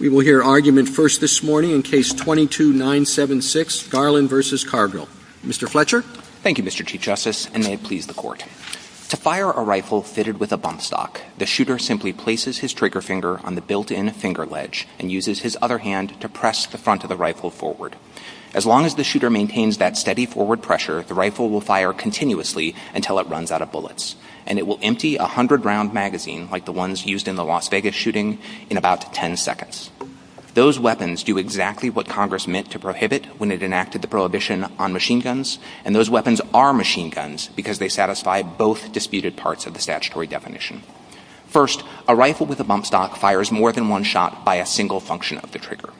We will hear argument first this morning in Case 22-976, Garland v. Cargill. Mr. Fletcher? Thank you, Mr. Chief Justice, and may it please the Court. To fire a rifle fitted with a bump stock, the shooter simply places his trigger finger on the built-in finger ledge and uses his other hand to press the front of the rifle forward. As long as the shooter maintains that steady forward pressure, the rifle will fire continuously until it runs out of bullets, and it will empty a 100-round magazine, like the ones used in the Las Vegas shooting, in about 10 seconds. Those weapons do exactly what Congress meant to prohibit when it enacted the prohibition on machine guns, and those weapons are machine guns because they satisfy both disputed parts of the statutory definition. First, a rifle with a bump stock fires more than one shot by a single function of the trigger.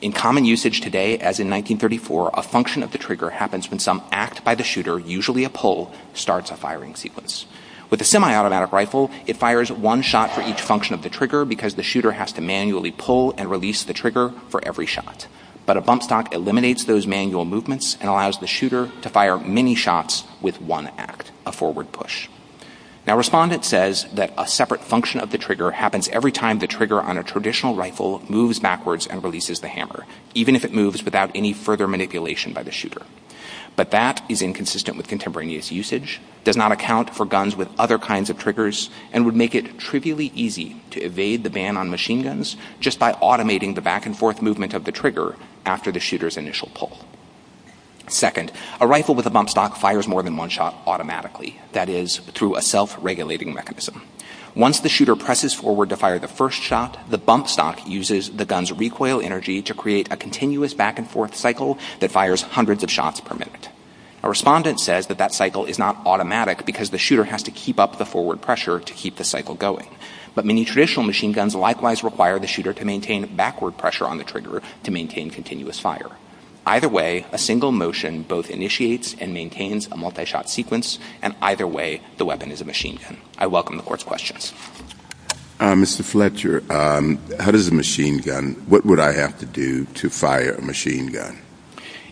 In common usage today as in 1934, a function of the trigger happens when some act by the shooter, usually a pull, starts a firing sequence. With a semi-automatic rifle, it fires one shot for each function of the trigger because the shooter has to manually pull and release the trigger for every shot. But a bump stock eliminates those manual movements and allows the shooter to fire many shots with one act, a forward push. Now, Respondent says that a separate function of the trigger happens every time the trigger on a traditional rifle moves backwards and releases the hammer, even if it moves without any further manipulation by the shooter. But that is inconsistent with contemporaneous usage, does not account for guns with other kinds of triggers, and would make it trivially easy to evade the ban on machine guns just by automating the back and forth movement of the trigger after the shooter's initial pull. Second, a rifle with a bump stock fires more than one shot automatically, that is, through a self-regulating mechanism. Once the shooter presses forward to fire the first shot, the bump stock uses the gun's recoil energy to create a continuous back and forth cycle that fires hundreds of shots per minute. Now, Respondent says that that cycle is not automatic because the shooter has to keep up the forward pressure to keep the cycle going. But many traditional machine guns likewise require the shooter to maintain backward pressure on the trigger to maintain continuous fire. Either way, a single motion both initiates and maintains a multi-shot sequence, and either way, the weapon is a machine gun. I welcome the Court's questions. Mr. Fletcher, how does a machine gun, what would I have to do to fire a machine gun?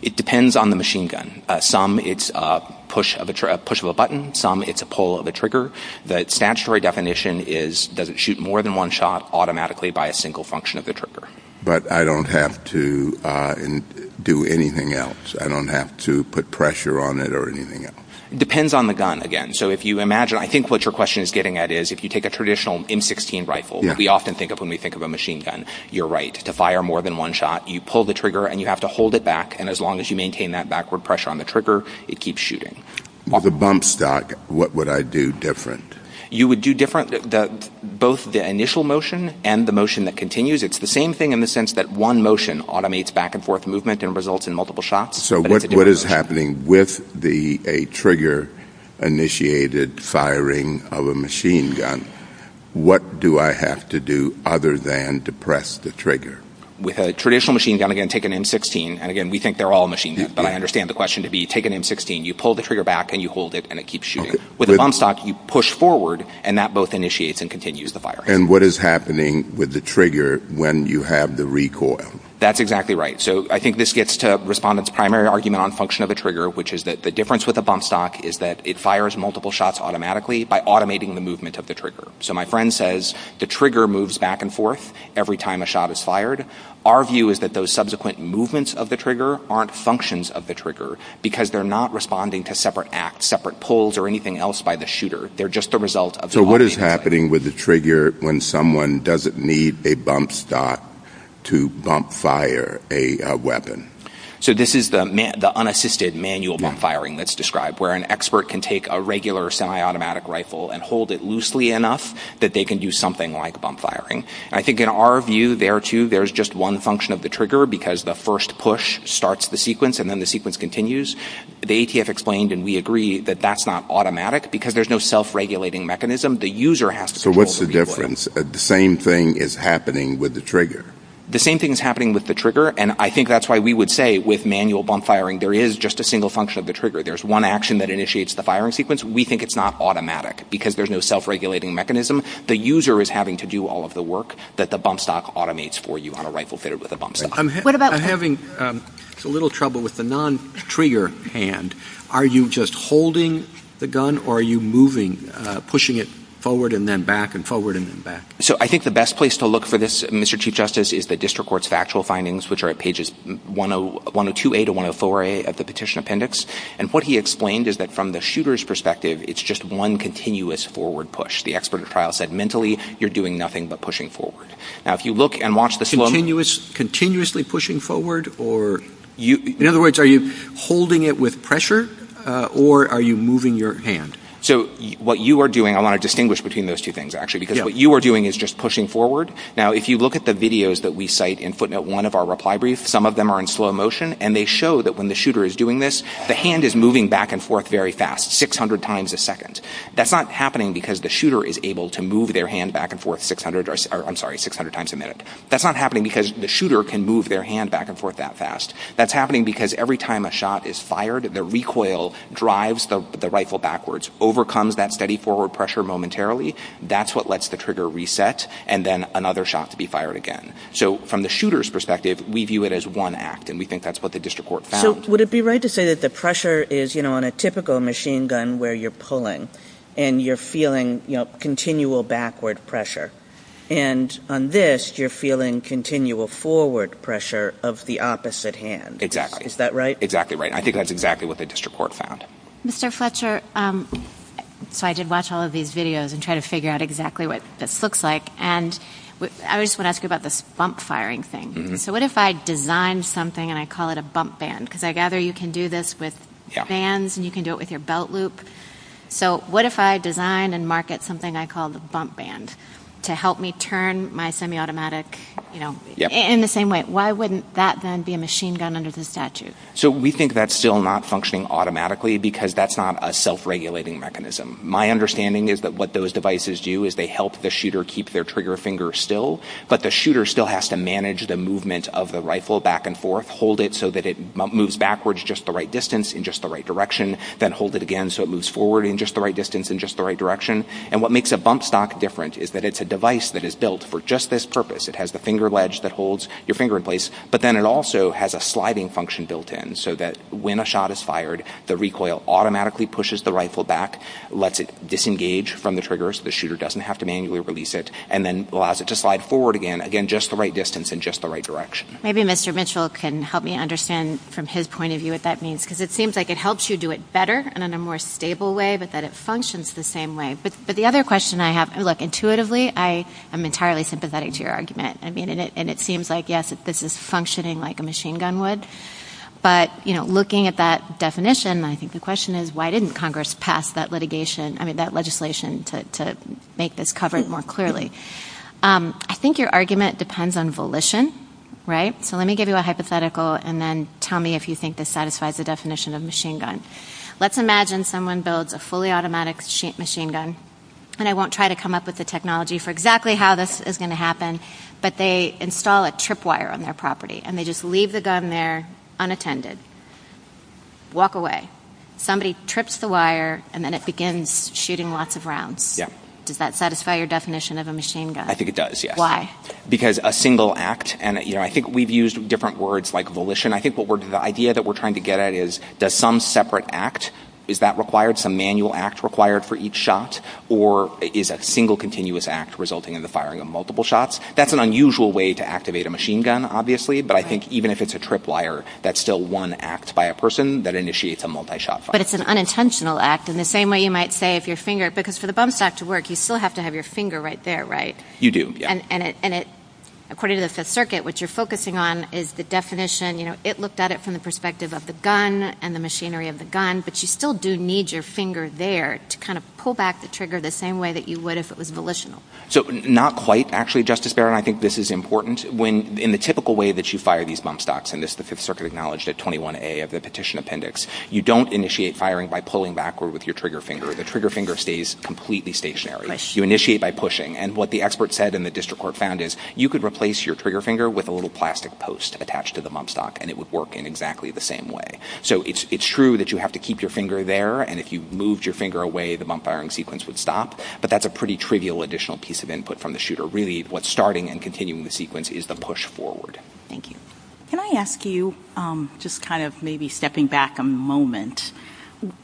It depends on the machine gun. Some it's a push of a button, some it's a pull of a trigger. The statutory definition is does it shoot more than one shot automatically by a single function of the trigger. But I don't have to do anything else? I don't have to put pressure on it or anything else? It depends on the gun, again. So if you imagine, I think what your question is getting at is if you take a traditional M16 rifle, we often think of when we think of a machine gun, you're right. To fire more than one shot, you pull the trigger and you have to hold it back, and as long as you maintain that backward pressure on the trigger, it keeps shooting. With a bump stock, what would I do different? You would do different, both the initial motion and the motion that continues. It's the same thing in the sense that one motion automates back and forth movement and results in multiple shots. So what is happening with a trigger-initiated firing of a machine gun? What do I have to do other than depress the trigger? With a traditional machine gun, again, take an M16, and again, we think they're all machine guns, but I understand the question to be take an M16, you pull the trigger back and you hold it, and it keeps shooting. With a bump stock, you push forward, and that both initiates and continues the firing. And what is happening with the trigger when you have the recoil? That's exactly right. So I think this gets to respondents' primary argument on function of a trigger, which is that the difference with a bump stock is that it fires multiple shots automatically by automating the movement of the trigger. So my friend says the trigger moves back and forth every time a shot is fired. Our view is that those subsequent movements of the trigger aren't functions of the trigger because they're not responding to separate acts, separate pulls, or anything else by the shooter. They're just the result of the body. What is happening with the trigger when someone doesn't need a bump stock to bump fire a weapon? So this is the unassisted manual bump firing that's described, where an expert can take a regular semi-automatic rifle and hold it loosely enough that they can do something like bump firing. I think in our view there, too, there's just one function of the trigger because the first push starts the sequence and then the sequence continues. The ATF explained, and we agree, that that's not automatic because there's no self-regulating mechanism. The user has to control the recoil. So what's the difference? The same thing is happening with the trigger. The same thing is happening with the trigger, and I think that's why we would say with manual bump firing there is just a single function of the trigger. There's one action that initiates the firing sequence. We think it's not automatic because there's no self-regulating mechanism. The user is having to do all of the work that the bump stock automates for you on a rifle fitted with a bump stock. I'm having a little trouble with the non-trigger hand. Are you just holding the gun or are you moving, pushing it forward and then back and forward and then back? So I think the best place to look for this, Mr. Chief Justice, is the District Court's factual findings, which are at pages 102A to 104A at the petition appendix. And what he explained is that from the shooter's perspective it's just one continuous forward push. The expert at trial said mentally you're doing nothing but pushing forward. Now, if you look and watch the slow- Continuously pushing forward? In other words, are you holding it with pressure or are you moving your hand? So what you are doing- I want to distinguish between those two things, actually, because what you are doing is just pushing forward. Now, if you look at the videos that we cite in footnote 1 of our reply brief, some of them are in slow motion, and they show that when the shooter is doing this, the hand is moving back and forth very fast, 600 times a second. That's not happening because the shooter is able to move their hand back and forth 600 times a minute. That's not happening because the shooter can move their hand back and forth that fast. That's happening because every time a shot is fired, the recoil drives the rifle backwards, overcomes that steady forward pressure momentarily. That's what lets the trigger reset, and then another shot to be fired again. So from the shooter's perspective, we view it as one act, and we think that's what the district court found. So would it be right to say that the pressure is, you know, on a typical machine gun where you're pulling and you're feeling, you know, continual backward pressure? And on this, you're feeling continual forward pressure of the opposite hand. Exactly. Is that right? Exactly right. I think that's exactly what the district court found. Mr. Fletcher, so I did watch all of these videos and try to figure out exactly what this looks like, and I just want to ask you about this bump firing thing. So what if I designed something and I call it a bump band? Because I gather you can do this with bands, and you can do it with your belt loop. So what if I designed and market something I call the bump band? To help me turn my semi-automatic, you know, in the same way. Why wouldn't that then be a machine gun under the statute? So we think that's still not functioning automatically because that's not a self-regulating mechanism. My understanding is that what those devices do is they help the shooter keep their trigger finger still, but the shooter still has to manage the movement of the rifle back and forth, hold it so that it moves backwards just the right distance in just the right direction, then hold it again so it moves forward in just the right distance in just the right direction. And what makes a bump stock different is that it's a device that is built for just this purpose. It has the finger wedge that holds your finger in place, but then it also has a sliding function built in so that when a shot is fired, the recoil automatically pushes the rifle back, lets it disengage from the trigger so the shooter doesn't have to manually release it, and then allows it to slide forward again, again just the right distance in just the right direction. Maybe Mr. Mitchell can help me understand from his point of view what that means, because it seems like it helps you do it better and in a more stable way, but that it functions the same way. But the other question I have, look, intuitively, I am entirely sympathetic to your argument. And it seems like, yes, this is functioning like a machine gun would, but looking at that definition, I think the question is, why didn't Congress pass that legislation to make this covered more clearly? I think your argument depends on volition, right? So let me give you a hypothetical, and then tell me if you think this satisfies the definition of machine gun. Let's imagine someone builds a fully automatic machine gun, and I won't try to come up with the technology for exactly how this is going to happen, but they install a trip wire on their property, and they just leave the gun there unattended, walk away. Somebody trips the wire, and then it begins shooting lots of rounds. Does that satisfy your definition of a machine gun? I think it does, yes. Why? Because a single act, and I think we've used different words like volition. I think the idea that we're trying to get at is, does some separate act, is that required, some manual act required for each shot, or is a single continuous act resulting in the firing of multiple shots? That's an unusual way to activate a machine gun, obviously, but I think even if it's a trip wire, that's still one act by a person that initiates a multi-shot fire. But it's an unintentional act in the same way you might say if your finger, because for the bump stop to work, you still have to have your finger right there, right? You do, yes. And according to the Fifth Circuit, what you're focusing on is the definition, you know, it looked at it from the perspective of the gun and the machinery of the gun, but you still do need your finger there to kind of pull back the trigger the same way that you would if it was volitional. So not quite, actually, Justice Barron. I think this is important. In the typical way that you fire these bump stops, and this is the Fifth Circuit acknowledged at 21A of the petition appendix, you don't initiate firing by pulling backward with your trigger finger. The trigger finger stays completely stationary. You initiate by pushing, and what the expert said and the district court found is you could replace your trigger finger with a little plastic post attached to the bump stop, and it would work in exactly the same way. So it's true that you have to keep your finger there, and if you moved your finger away, the bump firing sequence would stop, but that's a pretty trivial additional piece of input from the shooter. Really, what's starting and continuing the sequence is the push forward. Thank you. Can I ask you, just kind of maybe stepping back a moment,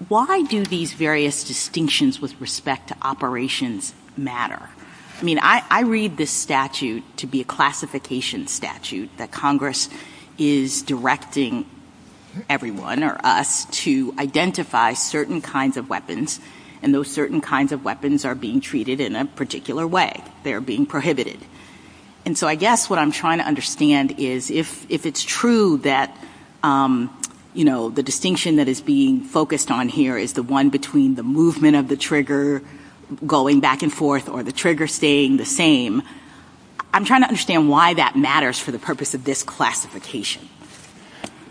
why do these various distinctions with respect to operations matter? I mean, I read this statute to be a classification statute that Congress is directing everyone or us to identify certain kinds of weapons, and those certain kinds of weapons are being treated in a particular way. They're being prohibited. And so I guess what I'm trying to understand is if it's true that, you know, the distinction that is being focused on here is the one between the movement of the trigger going back and forth or the trigger staying the same, I'm trying to understand why that matters for the purpose of this classification.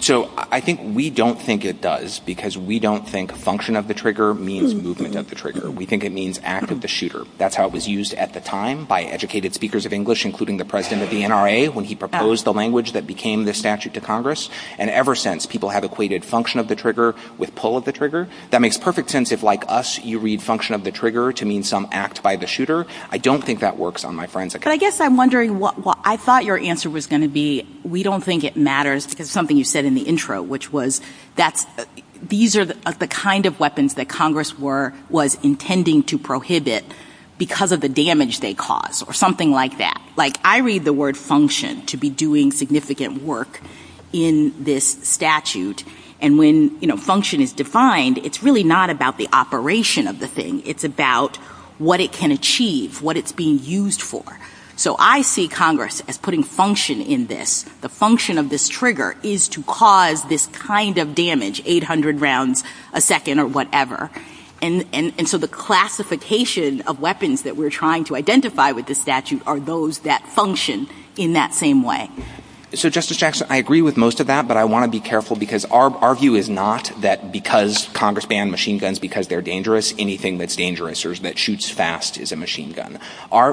So I think we don't think it does because we don't think function of the trigger means movement of the trigger. We think it means act of the shooter. That's how it was used at the time by educated speakers of English, including the president of the NRA, when he proposed the language that became the statute to Congress. And ever since, people have equated function of the trigger with pull of the trigger. That makes perfect sense if, like us, you read function of the trigger to mean some act by the shooter. I don't think that works on my forensic account. But I guess I'm wondering what I thought your answer was going to be. We don't think it matters because something you said in the intro, which was these are the kind of weapons that Congress was intending to prohibit because of the damage they caused or something like that. Like, I read the word function to be doing significant work in this statute. And when function is defined, it's really not about the operation of the thing. It's about what it can achieve, what it's being used for. So I see Congress as putting function in this. The function of this trigger is to cause this kind of damage, 800 rounds a second or whatever. And so the classification of weapons that we're trying to identify with this statute are those that function in that same way. So, Justice Jackson, I agree with most of that, but I want to be careful because our view is not that because Congress banned machine guns because they're dangerous, anything that's dangerous or that shoots fast is a machine gun.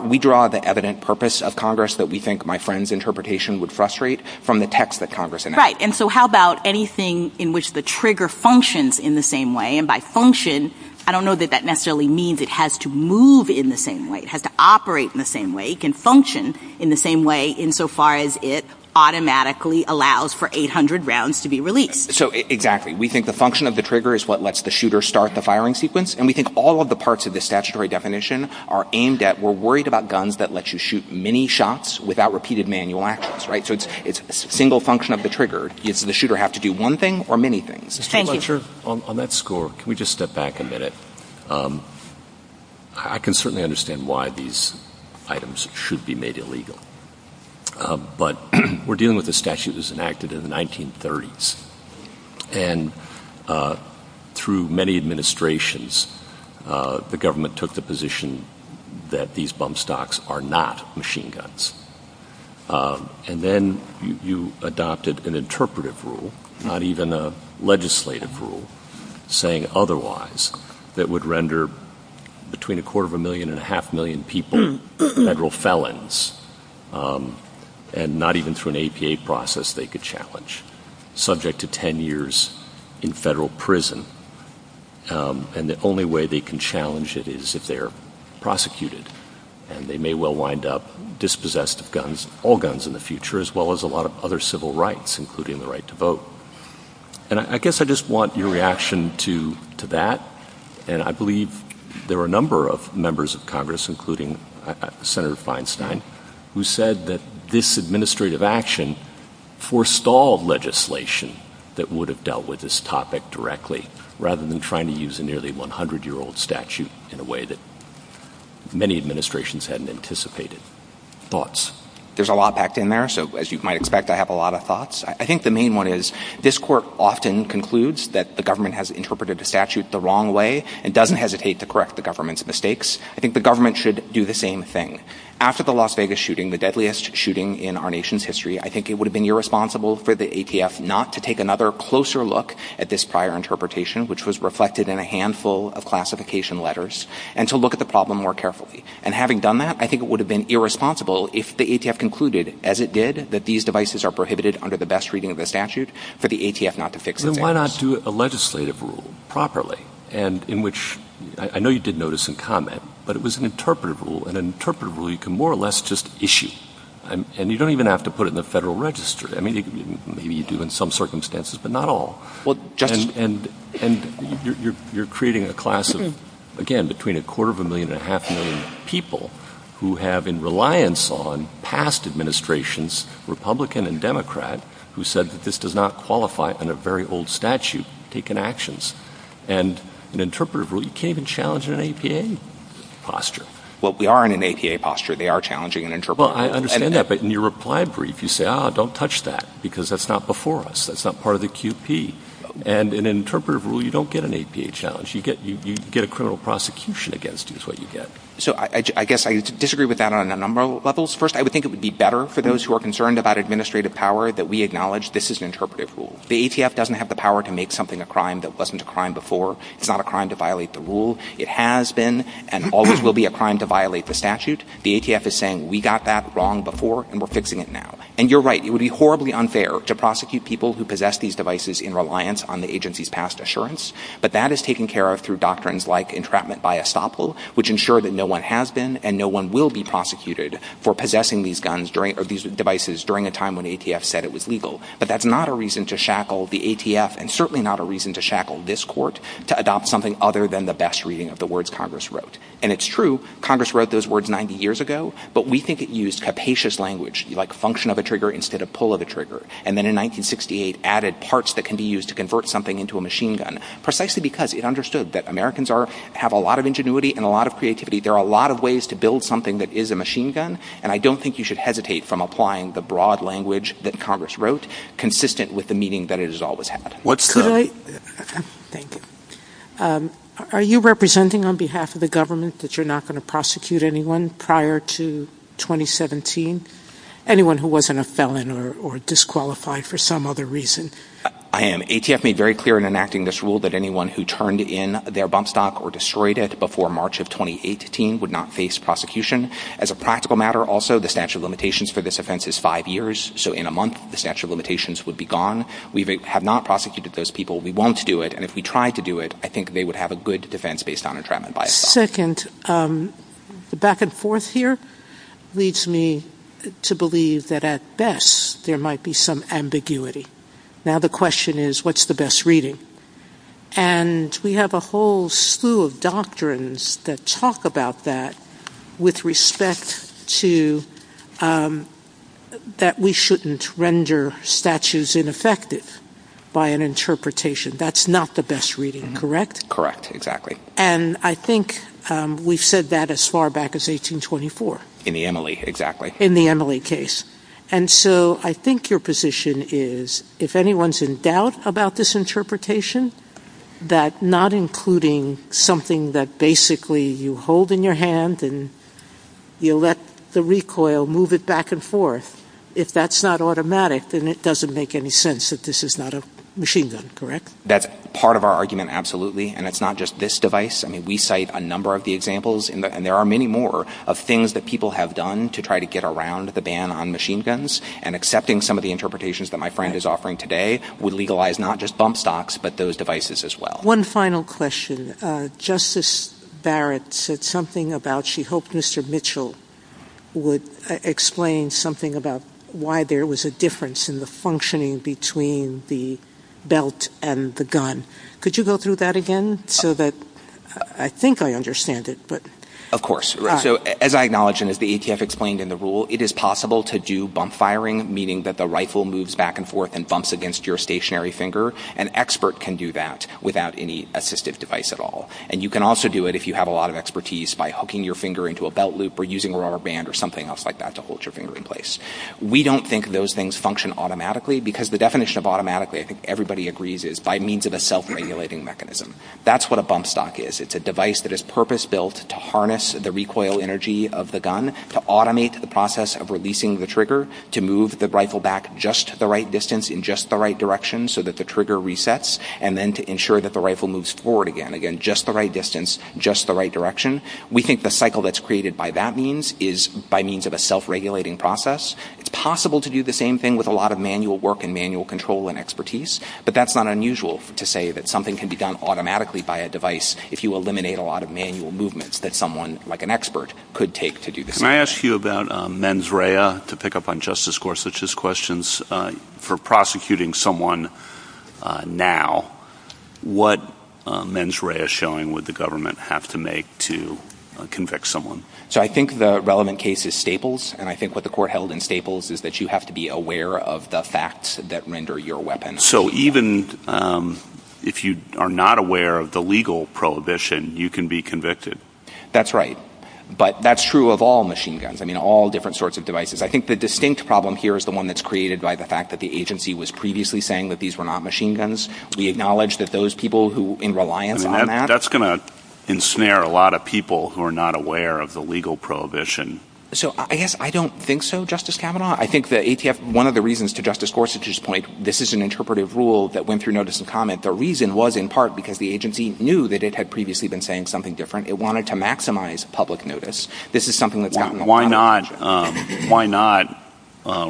We draw the evident purpose of Congress that we think my friend's interpretation would frustrate from the text that Congress announced. Right. And so how about anything in which the trigger functions in the same way? And by function, I don't know that that necessarily means it has to move in the same way. It has to operate in the same way. It can function in the same way insofar as it automatically allows for 800 rounds to be released. So exactly. We think the function of the trigger is what lets the shooter start the firing sequence. And we think all of the parts of the statutory definition are aimed at, we're worried about guns that let you shoot many shots without repeated manual actions. Right. So it's a single function of the trigger. The shooter has to do one thing or many things. Thank you. Mr. Fletcher, on that score, can we just step back a minute? I can certainly understand why these items should be made illegal. But we're dealing with a statute that was enacted in the 1930s. And through many administrations, the government took the position that these bump stocks are not machine guns. And then you adopted an interpretive rule, not even a legislative rule, saying otherwise, that would render between a quarter of a million and a half million people federal felons, and not even through an APA process they could challenge, subject to 10 years in federal prison. And the only way they can challenge it is if they're prosecuted, and they may well wind up dispossessed of guns, all guns in the future, as well as a lot of other civil rights, including the right to vote. And I guess I just want your reaction to that. And I believe there are a number of members of Congress, including Senator Feinstein, who said that this administrative action forestalled legislation that would have dealt with this topic directly, rather than trying to use a nearly 100-year-old statute in a way that many administrations hadn't anticipated. Thoughts? There's a lot packed in there, so as you might expect, I have a lot of thoughts. I think the main one is this court often concludes that the government has interpreted the statute the wrong way and doesn't hesitate to correct the government's mistakes. I think the government should do the same thing. After the Las Vegas shooting, the deadliest shooting in our nation's history, I think it would have been irresponsible for the ATF not to take another closer look at this prior interpretation, which was reflected in a handful of classification letters, and to look at the problem more carefully. And having done that, I think it would have been irresponsible if the ATF concluded, as it did, that these devices are prohibited under the best reading of the statute, for the ATF not to fix the case. Then why not do a legislative rule properly, in which, I know you did notice some comment, but it was an interpretive rule, and an interpretive rule you can more or less just issue. And you don't even have to put it in the federal register. I mean, maybe you do in some circumstances, but not all. And you're creating a class of, again, between a quarter of a million and a half million people who have, in reliance on past administrations, Republican and Democrat, who said that this does not qualify under a very old statute, taken actions. And an interpretive rule, you can't even challenge it in an APA posture. Well, we are in an APA posture. They are challenging an interpretive rule. Well, I understand that, but in your reply brief, you say, ah, don't touch that, because that's not before us. That's not part of the QP. And in an interpretive rule, you don't get an APA challenge. You get a criminal prosecution against you is what you get. So I guess I disagree with that on a number of levels. First, I would think it would be better for those who are concerned about administrative power that we acknowledge this is an interpretive rule. The ATF doesn't have the power to make something a crime that wasn't a crime before. It's not a crime to violate the rule. It has been and always will be a crime to violate the statute. The ATF is saying we got that wrong before, and we're fixing it now. And you're right, it would be horribly unfair to prosecute people who possess these devices in reliance on the agency's past assurance. But that is taken care of through doctrines like entrapment by estoppel, which ensure that no one has been and no one will be prosecuted for possessing these devices during a time when ATF said it was legal. But that's not a reason to shackle the ATF, and certainly not a reason to shackle this court to adopt something other than the best reading of the words Congress wrote. And it's true, Congress wrote those words 90 years ago, but we think it used capacious language, like function of a trigger instead of pull of a trigger. And then in 1968, added parts that can be used to convert something into a machine gun, precisely because it understood that Americans have a lot of ingenuity and a lot of creativity. There are a lot of ways to build something that is a machine gun, and I don't think you should hesitate from applying the broad language that Congress wrote, consistent with the meaning that it has always had. Are you representing on behalf of the government that you're not going to prosecute anyone prior to 2017? Anyone who wasn't a felon or disqualified for some other reason? I am. ATF made very clear in enacting this rule that anyone who turned in their bump stock or destroyed it before March of 2018 would not face prosecution. As a practical matter also, the statute of limitations for this offense is five years, so in a month the statute of limitations would be gone. We have not prosecuted those people. We won't do it. And if we tried to do it, I think they would have a good defense based on entrapment by a felon. Second, the back and forth here leads me to believe that at best there might be some ambiguity. Now the question is, what's the best reading? And we have a whole slew of doctrines that talk about that, with respect to that we shouldn't render statutes ineffective by an interpretation. That's not the best reading, correct? Correct, exactly. And I think we've said that as far back as 1824. In the Emily, exactly. In the Emily case. And so I think your position is, if anyone's in doubt about this interpretation, that not including something that basically you hold in your hand and you let the recoil move it back and forth, if that's not automatic, then it doesn't make any sense that this is not a machine gun, correct? That's part of our argument, absolutely, and it's not just this device. I mean, we cite a number of the examples, and there are many more, of things that people have done to try to get around the ban on machine guns, and accepting some of the interpretations that my friend is offering today would legalize not just bump stocks, but those devices as well. One final question. Justice Barrett said something about she hoped Mr. Mitchell would explain something about why there was a difference in the functioning between the belt and the gun. Could you go through that again so that I think I understand it? Of course. So as I acknowledge and as the ATF explained in the rule, it is possible to do bump firing, meaning that the rifle moves back and forth and bumps against your stationary finger. An expert can do that without any assistive device at all. And you can also do it if you have a lot of expertise by hooking your finger into a belt loop or using a rubber band or something else like that to hold your finger in place. We don't think those things function automatically because the definition of automatically, I think everybody agrees, is by means of a self-regulating mechanism. That's what a bump stock is. It's a device that is purpose-built to harness the recoil energy of the gun, to automate the process of releasing the trigger, to move the rifle back just the right distance in just the right direction so that the trigger resets, and then to ensure that the rifle moves forward again, again, just the right distance, just the right direction. We think the cycle that's created by that means is by means of a self-regulating process. It's possible to do the same thing with a lot of manual work and manual control and expertise, but that's not unusual to say that something can be done automatically by a device if you eliminate a lot of manual movements that someone like an expert could take to do the same thing. Can I ask you about mens rea to pick up on Justice Gorsuch's questions? For prosecuting someone now, what mens rea showing would the government have to make to convict someone? So I think the relevant case is Staples, and I think what the court held in Staples is that you have to be aware of the facts that render your weapon. So even if you are not aware of the legal prohibition, you can be convicted? That's right, but that's true of all machine guns. I mean, all different sorts of devices. I think the distinct problem here is the one that's created by the fact that the agency was previously saying that these were not machine guns. We acknowledge that those people who, in reliance on that... So I guess I don't think so, Justice Kavanaugh. I think one of the reasons, to Justice Gorsuch's point, this is an interpretive rule that went through notice and comment. The reason was in part because the agency knew that it had previously been saying something different. It wanted to maximize public notice. Why not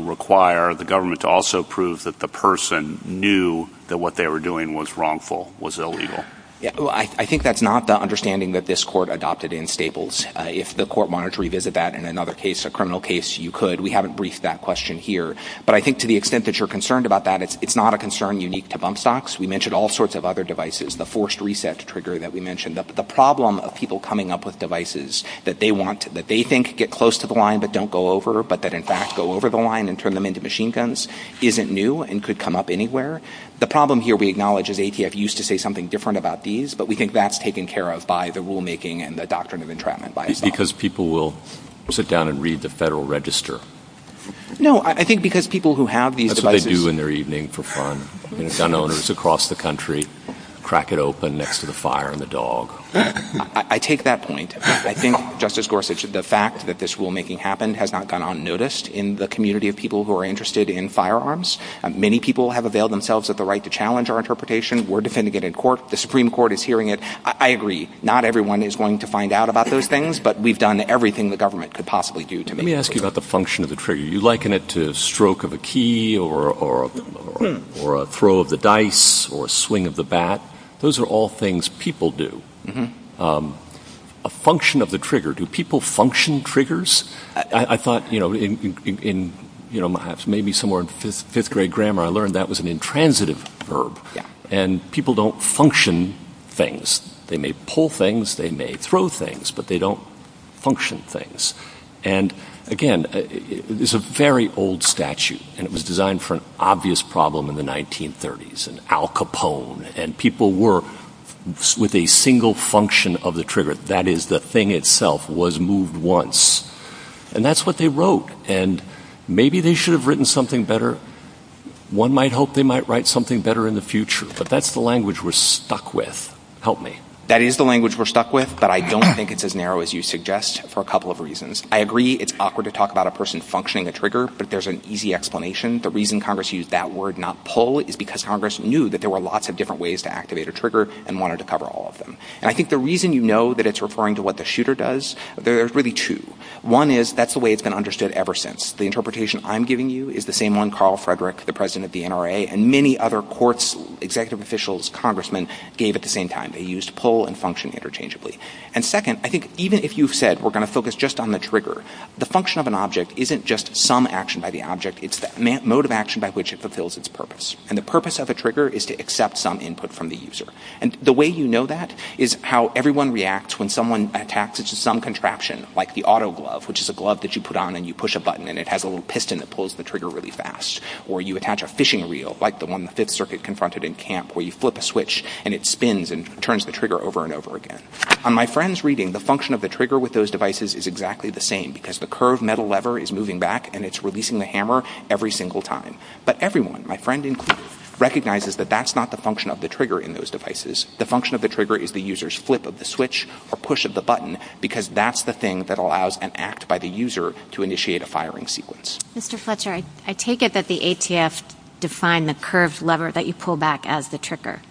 require the government to also prove that the person knew that what they were doing was wrongful, was illegal? If the court wanted to revisit that in another case, a criminal case, you could. We haven't briefed that question here. But I think to the extent that you're concerned about that, it's not a concern unique to bump stocks. We mentioned all sorts of other devices, the forced reset trigger that we mentioned. The problem of people coming up with devices that they think get close to the line but don't go over, but that in fact go over the line and turn them into machine guns, isn't new and could come up anywhere. The problem here we acknowledge is ATF used to say something different about these, but we think that's taken care of by the rulemaking and the doctrine of entrapment by itself. Because people will sit down and read the Federal Register. No, I think because people who have these devices. That's what they do in their evening for fun. Gun owners across the country crack it open next to the fire and the dog. I take that point. I think, Justice Gorsuch, the fact that this rulemaking happened has not gone unnoticed in the community of people who are interested in firearms. Many people have availed themselves of the right to challenge our interpretation. We're defending it in court. The Supreme Court is hearing it. I agree. Not everyone is going to find out about those things, but we've done everything the government could possibly do to make it work. Let me ask you about the function of the trigger. You liken it to a stroke of a key or a throw of the dice or a swing of the bat. Those are all things people do. A function of the trigger. Do people function triggers? I thought maybe somewhere in fifth-grade grammar I learned that was an intransitive verb, and people don't function things. They may pull things. They may throw things, but they don't function things. Again, it's a very old statute, and it was designed for an obvious problem in the 1930s, an Al Capone, and people were with a single function of the trigger. That is, the thing itself was moved once, and that's what they wrote. Maybe they should have written something better. One might hope they might write something better in the future, but that's the language we're stuck with. Help me. That is the language we're stuck with, but I don't think it's as narrow as you suggest for a couple of reasons. I agree it's awkward to talk about a person functioning a trigger, but there's an easy explanation. The reason Congress used that word, not pull, is because Congress knew that there were lots of different ways to activate a trigger and wanted to cover all of them. I think the reason you know that it's referring to what the shooter does, there's really two. One is that's the way it's been understood ever since. The interpretation I'm giving you is the same one Carl Frederick, the president of the NRA, and many other courts, executive officials, congressmen gave at the same time. They used pull and function interchangeably. Second, I think even if you said we're going to focus just on the trigger, the function of an object isn't just some action by the object. It's the mode of action by which it fulfills its purpose, and the purpose of a trigger is to accept some input from the user. The way you know that is how everyone reacts when someone attacks it to some contraption, like the auto glove, which is a glove that you put on and you push a button and it has a little piston that pulls the trigger really fast. Or you attach a fishing reel, like the one the Fifth Circuit confronted in camp, where you flip a switch and it spins and turns the trigger over and over again. On my friend's reading, the function of the trigger with those devices is exactly the same because the curved metal lever is moving back and it's releasing the hammer every single time. But everyone, my friend included, realizes that that's not the function of the trigger in those devices. The function of the trigger is the user's flip of the switch or push of the button because that's the thing that allows an act by the user to initiate a firing sequence. Mr. Fletcher, I take it that the ATF defined the curved lever that you pull back as the trigger.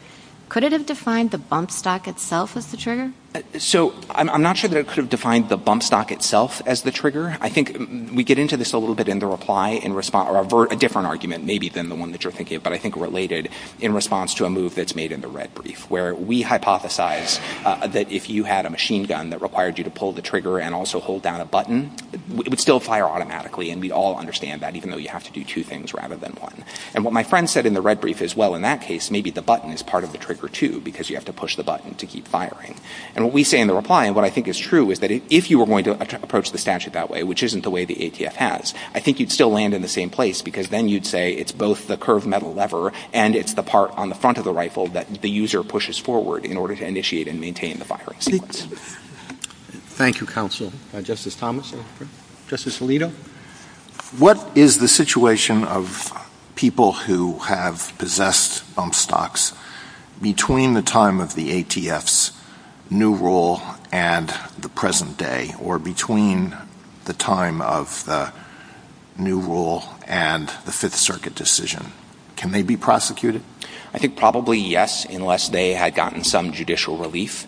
Could it have defined the bump stock itself as the trigger? So, I'm not sure that it could have defined the bump stock itself as the trigger. I think we get into this a little bit in the reply, or a different argument maybe than the one that you're thinking of, but I think related in response to a move that's made in the red brief, where we hypothesize that if you had a machine gun that required you to pull the trigger and also hold down a button, it would still fire automatically, and we all understand that, even though you have to do two things rather than one. And what my friend said in the red brief is, well, in that case, maybe the button is part of the trigger too because you have to push the button to keep firing. And what we say in the reply, and what I think is true, is that if you were going to approach the statute that way, which isn't the way the ATF has, I think you'd still land in the same place because then you'd say it's both the curved metal lever and it's the part on the front of the rifle that the user pushes forward in order to initiate and maintain the firing sequence. Thank you, counsel. Justice Thomas? Justice Alito? What is the situation of people who have possessed bump stocks between the time of the ATF's new rule and the present day, or between the time of the new rule and the Fifth Circuit decision? Can they be prosecuted? I think probably yes, unless they had gotten some judicial relief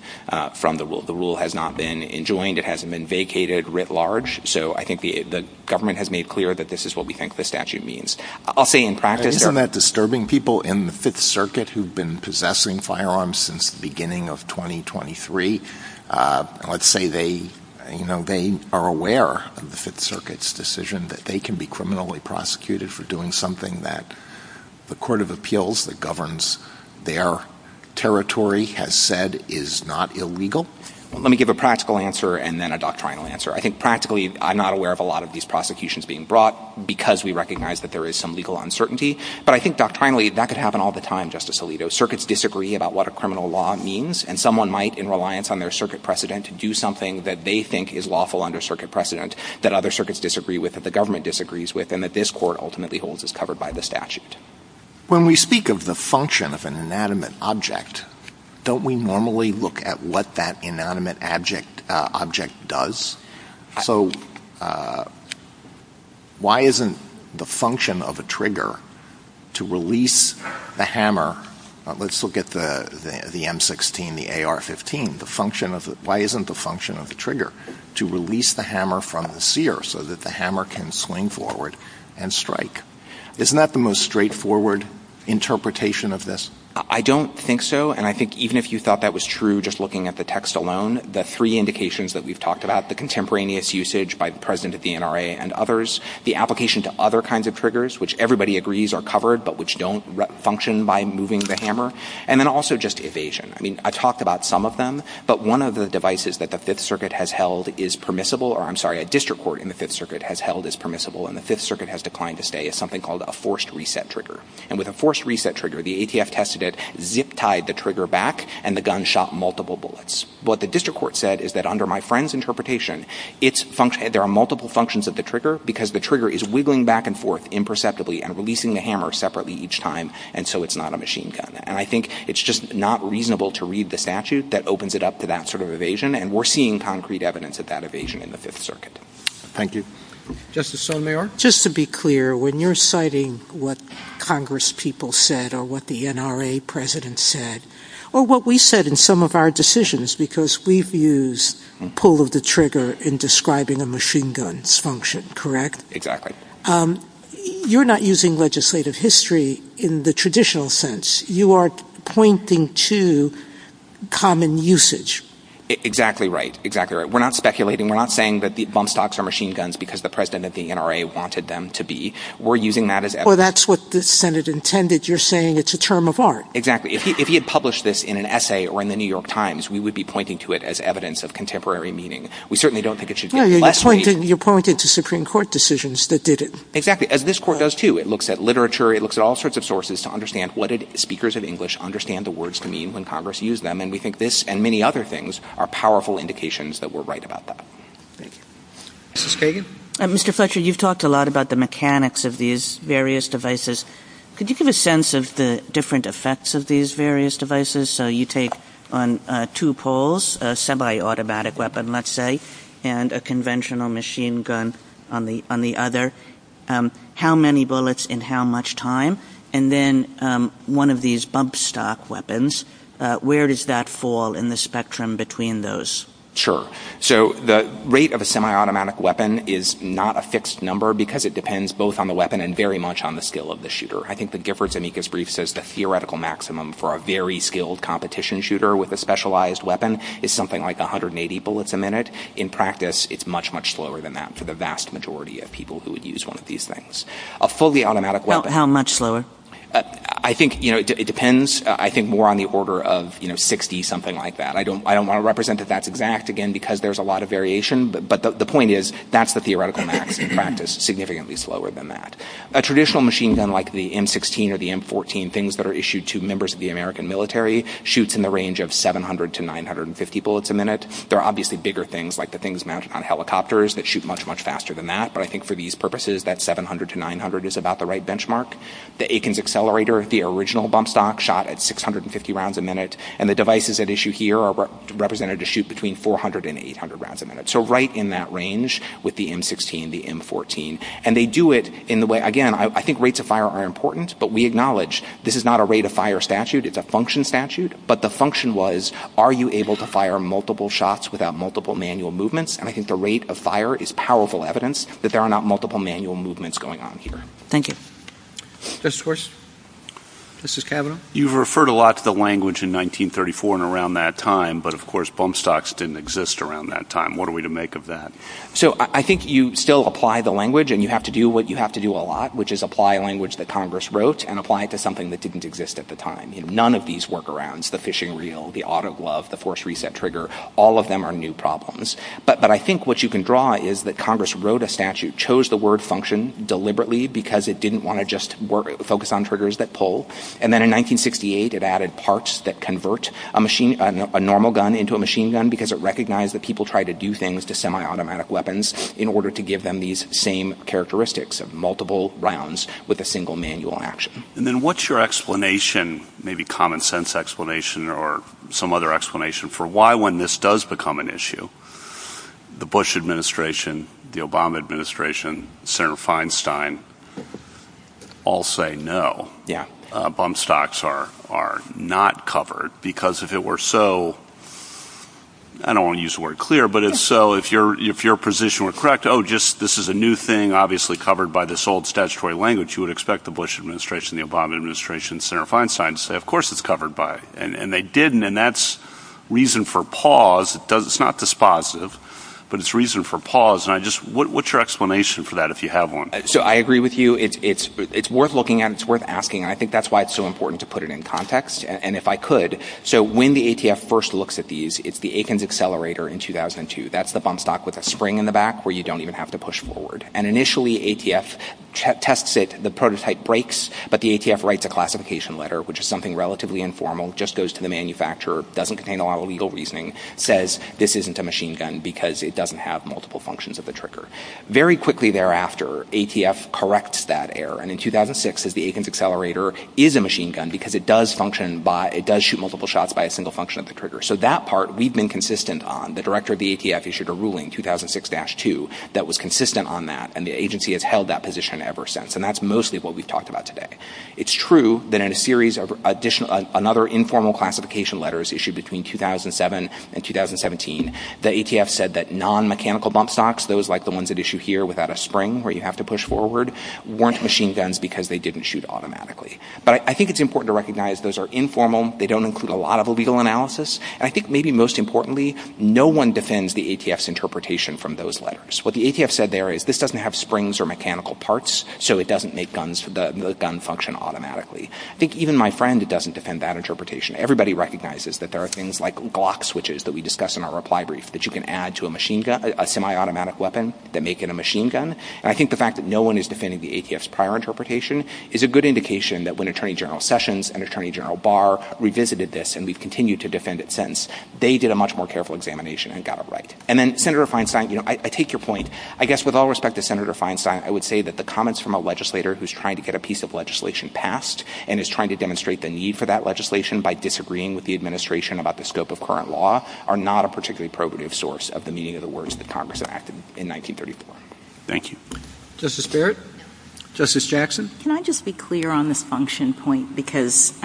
from the rule. The rule has not been enjoined. It hasn't been vacated writ large. So I think the government has made clear that this is what we think the statute means. I'll say in practice... Isn't that disturbing? People in the Fifth Circuit who've been possessing firearms since the beginning of 2023, let's say they are aware of the Fifth Circuit's decision that they can be criminally prosecuted for doing something that the court of appeals that governs their territory has said is not illegal. Let me give a practical answer and then a doctrinal answer. I think practically I'm not aware of a lot of these prosecutions being brought because we recognize that there is some legal uncertainty. But I think doctrinally that could happen all the time, Justice Alito. Circuits disagree about what a criminal law means, and someone might, in reliance on their circuit precedent, do something that they think is lawful under circuit precedent that other circuits disagree with, that the government disagrees with, and that this court ultimately holds is covered by the statute. When we speak of the function of an inanimate object, don't we normally look at what that inanimate object does? So why isn't the function of a trigger to release the hammer... Why isn't the function of a trigger to release the hammer from the seer so that the hammer can swing forward and strike? Isn't that the most straightforward interpretation of this? I don't think so, and I think even if you thought that was true just looking at the text alone, the three indications that we've talked about, the contemporaneous usage by the president of the NRA and others, the application to other kinds of triggers, which everybody agrees are covered but which don't function by moving the hammer, and then also just evasion. I talked about some of them, but one of the devices that the Fifth Circuit has held is permissible, or I'm sorry, a district court in the Fifth Circuit has held is permissible, and the Fifth Circuit has declined to say is something called a forced reset trigger. And with a forced reset trigger, the ATF tested it, zip-tied the trigger back, and the gun shot multiple bullets. What the district court said is that under my friend's interpretation, there are multiple functions of the trigger because the trigger is wiggling back and forth imperceptibly and releasing the hammer separately each time, and so it's not a machine gun. And I think it's just not reasonable to read the statute that opens it up to that sort of evasion, and we're seeing concrete evidence of that evasion in the Fifth Circuit. Thank you. Justice Sonomayor? Just to be clear, when you're citing what congresspeople said or what the NRA president said, or what we said in some of our decisions because we've used pull of the trigger in describing a machine gun's function, correct? Exactly. You're not using legislative history in the traditional sense. You are pointing to common usage. Exactly right. Exactly right. We're not speculating. We're not saying that the bump stocks are machine guns because the president of the NRA wanted them to be. We're using that as evidence. Or that's what the Senate intended. You're saying it's a term of art. Exactly. If he had published this in an essay or in the New York Times, we would be pointing to it as evidence of contemporary meaning. We certainly don't think it should be less meaning. No, you're pointing to Supreme Court decisions that did it. Exactly. As this court does, too. It looks at literature. It looks at all sorts of sources to understand what did speakers of English understand the words to mean when congress used them. And we think this and many other things are powerful indications that we're right about that. Mrs. Kagan? Mr. Fletcher, you've talked a lot about the mechanics of these various devices. Could you give a sense of the different effects of these various devices? So you take on two poles, a semi-automatic weapon, let's say, and a conventional machine gun on the other. How many bullets and how much time? And then one of these bump stock weapons, where does that fall in the spectrum between those? Sure. So the rate of a semi-automatic weapon is not a fixed number because it depends both on the weapon and very much on the skill of the shooter. I think the Giffords-Amicus brief says the theoretical maximum for a very skilled competition shooter with a specialized weapon is something like 180 bullets a minute. In practice, it's much, much slower than that for the vast majority of people who would use one of these things. A fully automatic weapon... How much slower? I think, you know, it depends. I think more on the order of, you know, 60, something like that. I don't want to represent that that's exact, again, because there's a lot of variation. But the point is, that's the theoretical maximum practice, significantly slower than that. A traditional machine gun like the M-16 or the M-14, things that are issued to members of the American military, shoots in the range of 700 to 950 bullets a minute. There are obviously bigger things, like the things mounted on helicopters that shoot much, much faster than that. But I think for these purposes, that 700 to 900 is about the right benchmark. The Akins Accelerator, the original bump stock, shot at 650 rounds a minute. And the devices at issue here are represented to shoot between 400 and 800 rounds a minute. So right in that range with the M-16, the M-14. And they do it in the way... Again, I think rates of fire are important, but we acknowledge this is not a rate-of-fire statute. It's a function statute. But the function was, are you able to fire multiple shots without multiple manual movements? And I think the rate of fire is powerful evidence that there are not multiple manual movements going on here. Thank you. Mr. Schwartz. Mrs. Cavanaugh. You've referred a lot to the language in 1934 and around that time, but, of course, bump stocks didn't exist around that time. What are we to make of that? So I think you still apply the language, and you have to do what you have to do a lot, which is apply language that Congress wrote and apply it to something that didn't exist at the time. None of these workarounds, the fishing reel, the auto glove, the force reset trigger, all of them are new problems. But I think what you can draw is that Congress wrote a statute, chose the word function deliberately because it didn't want to just focus on triggers that pull, and then in 1968 it added parts that convert a normal gun into a machine gun because it recognized that people tried to do things to semi-automatic weapons in order to give them these same characteristics of multiple rounds with a single manual action. And then what's your explanation, maybe common sense explanation or some other explanation for why when this does become an issue, the Bush administration, the Obama administration, Senator Feinstein, all say no, bump stocks are not covered because if it were so, I don't want to use the word clear, but if so, if your position were correct, oh, this is a new thing obviously covered by this old statutory language, you would expect the Bush administration, the Obama administration, Senator Feinstein to say, of course it's covered by it. And they didn't, and that's reason for pause. It's not dispositive, but it's reason for pause. What's your explanation for that if you have one? So I agree with you. It's worth looking at and it's worth asking. I think that's why it's so important to put it in context, and if I could. So when the ATF first looks at these, it's the Atkins Accelerator in 2002. That's the bump stock with a spring in the back where you don't even have to push forward. And initially ATF tests it, the prototype breaks, but the ATF writes a classification letter, which is something relatively informal, just goes to the manufacturer, doesn't contain a lot of legal reasoning, says this isn't a machine gun because it doesn't have multiple functions of the trigger. Very quickly thereafter, ATF corrects that error, and in 2006 says the Atkins Accelerator is a machine gun because it does shoot multiple shots by a single function of the trigger. So that part we've been consistent on. The director of the ATF issued a ruling, 2006-2, that was consistent on that, and the agency has held that position ever since, and that's mostly what we've talked about today. It's true that in a series of additional, another informal classification letters issued between 2007 and 2017, the ATF said that non-mechanical bump stocks, those like the ones that issue here without a spring where you have to push forward, weren't machine guns because they didn't shoot automatically. But I think it's important to recognize those are informal, they don't include a lot of legal analysis, and I think maybe most importantly, no one defends the ATF's interpretation from those letters. What the ATF said there is this doesn't have springs or mechanical parts, so it doesn't make the gun function automatically. I think even my friend doesn't defend that interpretation. Everybody recognizes that there are things like Glock switches that we discussed in our reply brief that you can add to a semi-automatic weapon that make it a machine gun, and I think the fact that no one is defending the ATF's prior interpretation is a good indication that when Attorney General Sessions and Attorney General Barr revisited this, and we've continued to defend it since, they did a much more careful examination and got it right. And then, Senator Feinstein, I take your point. I guess with all respect to Senator Feinstein, I would say that the comments from a legislator who's trying to get a piece of legislation passed and is trying to demonstrate the need for that legislation by disagreeing with the administration about the scope of current law are not a particularly appropriate source of the meaning of the words that Congress enacted in 1934. Thank you. Justice Barrett? Justice Jackson? Can I just be clear on this function point? Because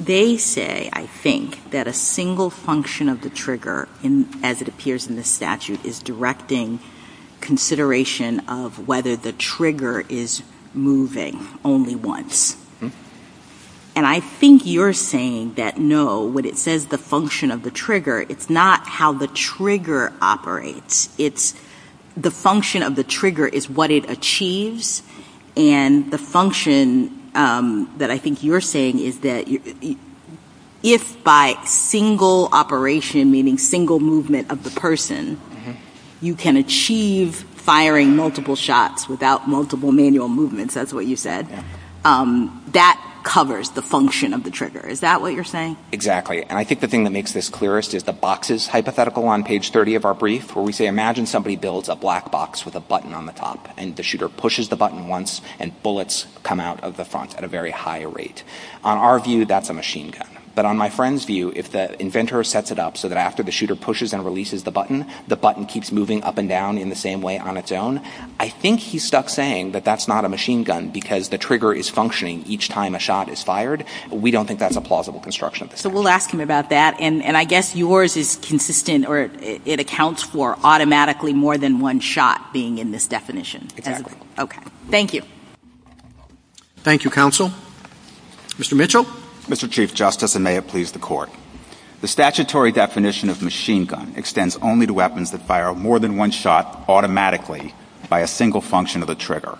they say, I think, that a single function of the trigger, as it appears in the statute, is directing consideration of whether the trigger is moving only once. And I think you're saying that no, when it says the function of the trigger, it's not how the trigger operates. It's the function of the trigger is what it achieves, and the function that I think you're saying is that if by single operation, meaning single movement of the person, you can achieve firing multiple shots without multiple manual movements, that's what you said, that covers the function of the trigger. Is that what you're saying? Exactly. And I think the thing that makes this clearest is the boxes hypothetical on page 30 of our brief, where we say, imagine somebody builds a black box with a button on the top, and the shooter pushes the button once, and bullets come out of the front at a very high rate. On our view, that's a machine gun. But on my friend's view, if the inventor sets it up so that after the shooter pushes and releases the button, the button keeps moving up and down in the same way on its own, I think he's stuck saying that that's not a machine gun because the trigger is functioning each time a shot is fired. We don't think that's a plausible construction. So we'll ask him about that. And I guess yours is consistent, or it accounts for automatically more than one shot being in this definition. Exactly. Okay. Thank you. Thank you, counsel. Mr. Mitchell? Mr. Chief Justice, and may it please the Court, the statutory definition of machine gun extends only to weapons that fire more than one shot automatically by a single function of the trigger.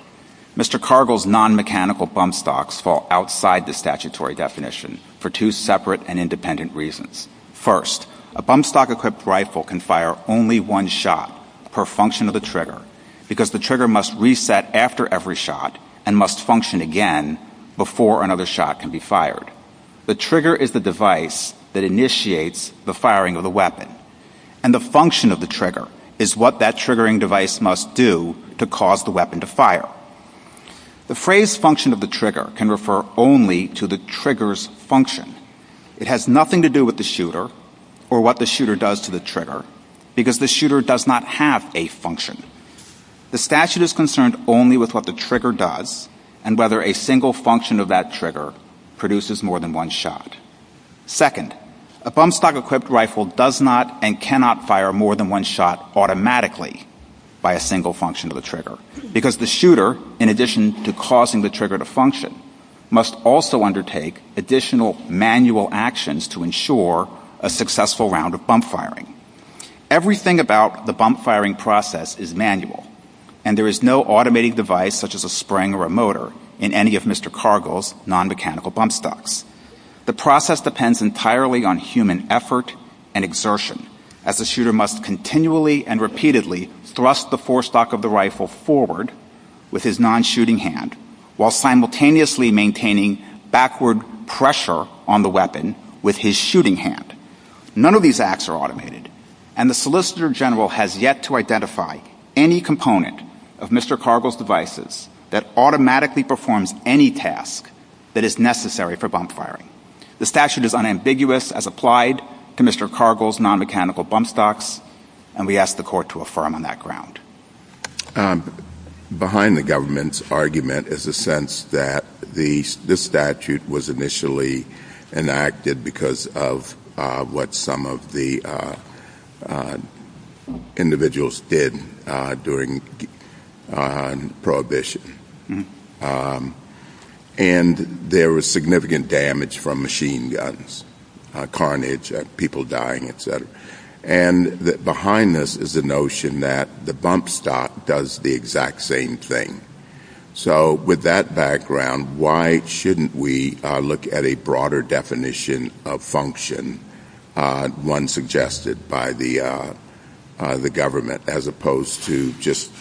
Mr. Cargill's non-mechanical bump stocks fall outside the statutory definition for two separate and independent reasons. First, a bump stock-equipped rifle can fire only one shot per function of the trigger because the trigger must reset after every shot and must function again before another shot can be fired. Second, the trigger is the device that initiates the firing of the weapon, and the function of the trigger is what that triggering device must do to cause the weapon to fire. The phrase function of the trigger can refer only to the trigger's function. It has nothing to do with the shooter or what the shooter does to the trigger because the shooter does not have a function. The statute is concerned only with what the trigger does and whether a single function of that trigger produces more than one shot. Second, a bump stock-equipped rifle does not and cannot fire more than one shot automatically by a single function of the trigger because the shooter, in addition to causing the trigger to function, must also undertake additional manual actions to ensure a successful round of bump firing. Everything about the bump firing process is manual, and there is no automating device such as a spring or a motor in any of Mr. Cargill's non-mechanical bump stocks. The process depends entirely on human effort and exertion as the shooter must continually and repeatedly thrust the forestock of the rifle forward with his non-shooting hand while simultaneously maintaining backward pressure on the weapon with his shooting hand. None of these acts are automated, and the Solicitor General has yet to identify any component of Mr. Cargill's devices that automatically performs any task that is necessary for bump firing. The statute is unambiguous as applied to Mr. Cargill's non-mechanical bump stocks, and we ask the Court to affirm on that ground. Behind the government's argument is the sense that this statute was initially enacted because of what some of the individuals did during Prohibition, and there was significant damage from machine guns, carnage, people dying, et cetera. And behind this is the notion that the bump stock does the exact same thing. So with that background, why shouldn't we look at a broader definition of function, one suggested by the government, as opposed to just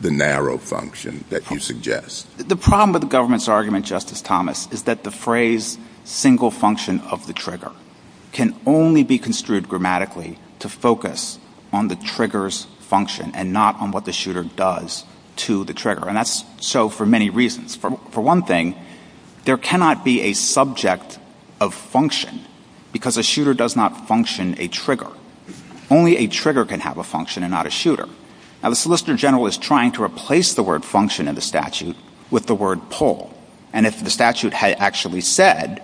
the narrow function that you suggest? The problem with the government's argument, Justice Thomas, is that the phrase single function of the trigger can only be construed grammatically to focus on the trigger's function and not on what the shooter does to the trigger, and that's so for many reasons. For one thing, there cannot be a subject of function because a shooter does not function a trigger. Only a trigger can have a function and not a shooter. Now, the Solicitor General is trying to replace the word function in the statute with the word pull, and if the statute had actually said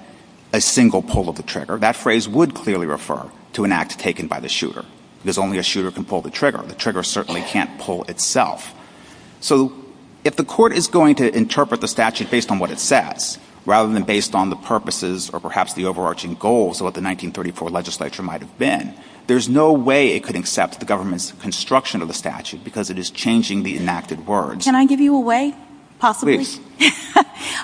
a single pull of the trigger, that phrase would clearly refer to an act taken by the shooter. There's only a shooter can pull the trigger. The trigger certainly can't pull itself. So if the court is going to interpret the statute based on what it says rather than based on the purposes or perhaps the overarching goals of what the 1934 legislature might have been, there's no way it could accept the government's construction of the statute because it is changing the enacted words. Can I give you a way, possibly? Please.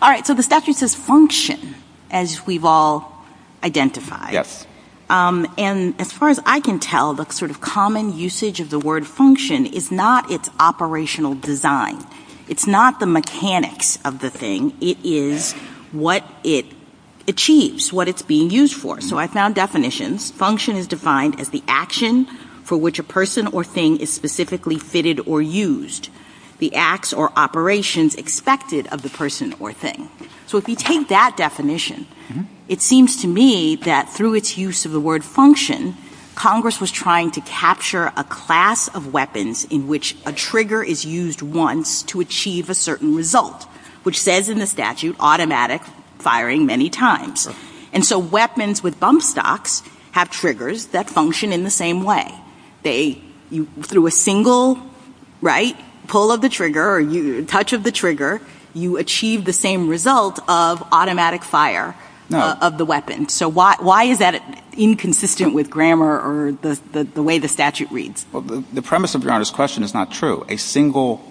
All right, so the statute says function, as we've all identified. Yes. And as far as I can tell, the sort of common usage of the word function is not its operational design. It's not the mechanics of the thing. It is what it achieves, what it's being used for. So I found definitions. Function is defined as the action for which a person or thing is specifically fitted or used, the acts or operations expected of the person or thing. So if you take that definition, it seems to me that through its use of the word function, Congress was trying to capture a class of weapons in which a trigger is used once to achieve a certain result, which says in the statute automatic firing many times. And so weapons with bump stocks have triggers that function in the same way. Through a single pull of the trigger or touch of the trigger, you achieve the same result of automatic fire of the weapon. So why is that inconsistent with grammar or the way the statute reads? Well, the premise of your Honor's question is not true. A single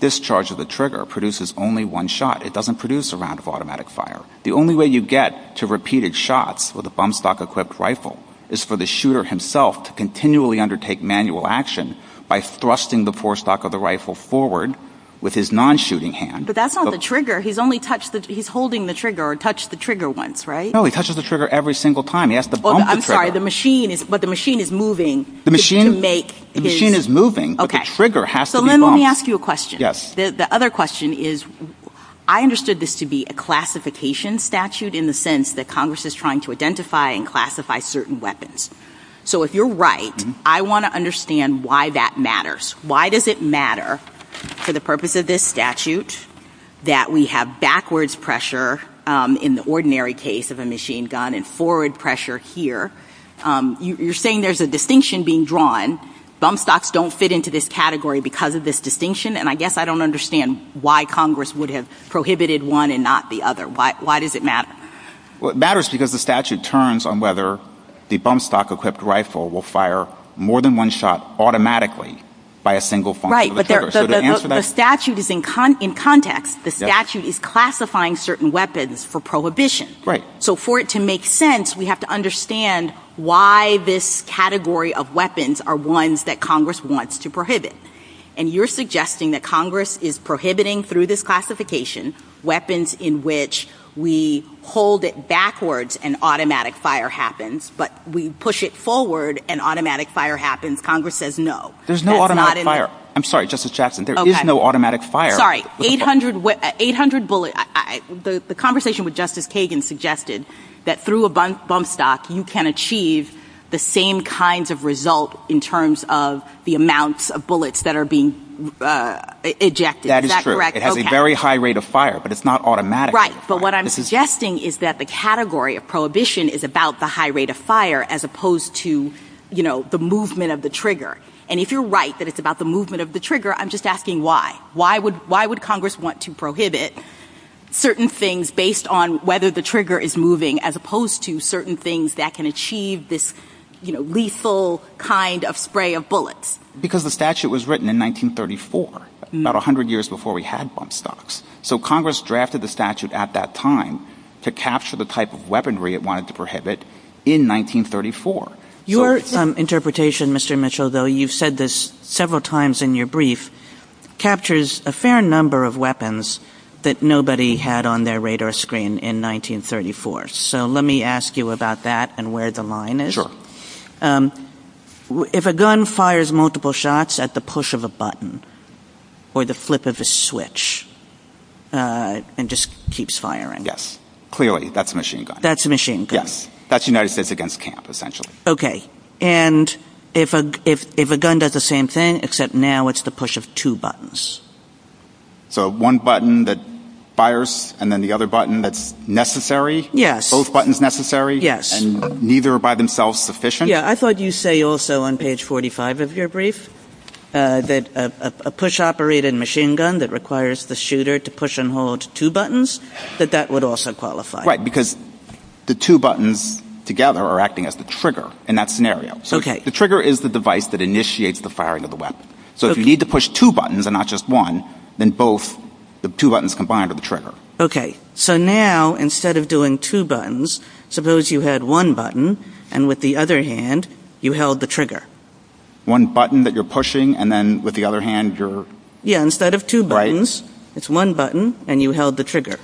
discharge of the trigger produces only one shot. It doesn't produce a round of automatic fire. The only way you get to repeated shots with a bump stock-equipped rifle is for the shooter himself to continually undertake manual action by thrusting the forestock of the rifle forward with his non-shooting hand. But that's not the trigger. He's holding the trigger or touched the trigger once, right? No, he touches the trigger every single time. He has to bump the trigger. I'm sorry, but the machine is moving. The machine is moving, but the trigger has to be bumped. So let me ask you a question. Yes. The other question is I understood this to be a classification statute in the sense that Congress is trying to identify and classify certain weapons. So if you're right, I want to understand why that matters. Why does it matter for the purpose of this statute that we have backwards pressure in the ordinary case of a machine gun and forward pressure here? You're saying there's a distinction being drawn. Bump stocks don't fit into this category because of this distinction, and I guess I don't understand why Congress would have prohibited one and not the other. Why does it matter? Well, it matters because the statute turns on whether the bump stock-equipped rifle will fire more than one shot automatically by a single function of the trigger. The statute is in context. The statute is classifying certain weapons for prohibition. So for it to make sense, we have to understand why this category of weapons are ones that Congress wants to prohibit. And you're suggesting that Congress is prohibiting through this classification weapons in which we hold it backwards and automatic fire happens, but we push it forward and automatic fire happens. Congress says no. There's no automatic fire. I'm sorry, Justice Jackson, there is no automatic fire. Sorry, 800 bullets. The conversation with Justice Kagan suggested that through a bump stock you can achieve the same kinds of result in terms of the amounts of bullets that are being ejected. That is true. It has a very high rate of fire, but it's not automatic. Right, but what I'm suggesting is that the category of prohibition is about the high rate of fire as opposed to the movement of the trigger. And if you're right that it's about the movement of the trigger, I'm just asking why. Why would Congress want to prohibit certain things based on whether the trigger is moving as opposed to certain things that can achieve this lethal kind of spray of bullets? Because the statute was written in 1934, about 100 years before we had bump stocks. So Congress drafted the statute at that time to capture the type of weaponry it wanted to prohibit in 1934. Your interpretation, Mr. Mitchell, though you've said this several times in your brief, captures a fair number of weapons that nobody had on their radar screen in 1934. So let me ask you about that and where the line is. Sure. If a gun fires multiple shots at the push of a button or the flip of a switch and just keeps firing. Yes, clearly that's a machine gun. That's a machine gun. Yes. That's United States against camp essentially. Okay. And if a gun does the same thing except now it's the push of two buttons. So one button that fires and then the other button that's necessary. Yes. Both buttons necessary. Yes. And neither are by themselves sufficient. Yeah. I thought you say also on page 45 of your brief that a push operated machine gun that requires the shooter to push and hold two buttons, that that would also qualify. Right. Because the two buttons together are acting as the trigger in that scenario. Okay. So the trigger is the device that initiates the firing of the weapon. So if you need to push two buttons and not just one, then both the two buttons combined are the trigger. Okay. So now instead of doing two buttons, suppose you had one button and with the other hand you held the trigger. One button that you're pushing and then with the other hand you're. Yeah. Instead of two buttons, it's one button and you held the trigger.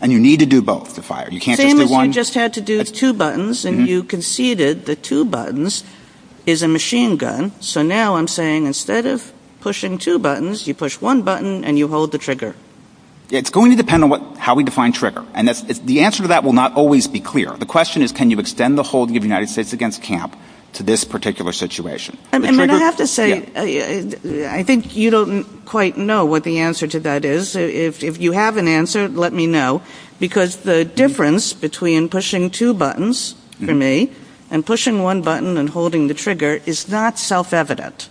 And you need to do both to fire. You can't just do one. Same as you just had to do two buttons and you conceded the two buttons is a machine gun. So now I'm saying instead of pushing two buttons, you push one button and you hold the trigger. It's going to depend on how we define trigger. And the answer to that will not always be clear. The question is, can you extend the holding of the United States against camp to this particular situation? And I have to say, I think you don't quite know what the answer to that is. If you have an answer, let me know. Because the difference between pushing two buttons for me and pushing one button and holding the trigger is not self-evident.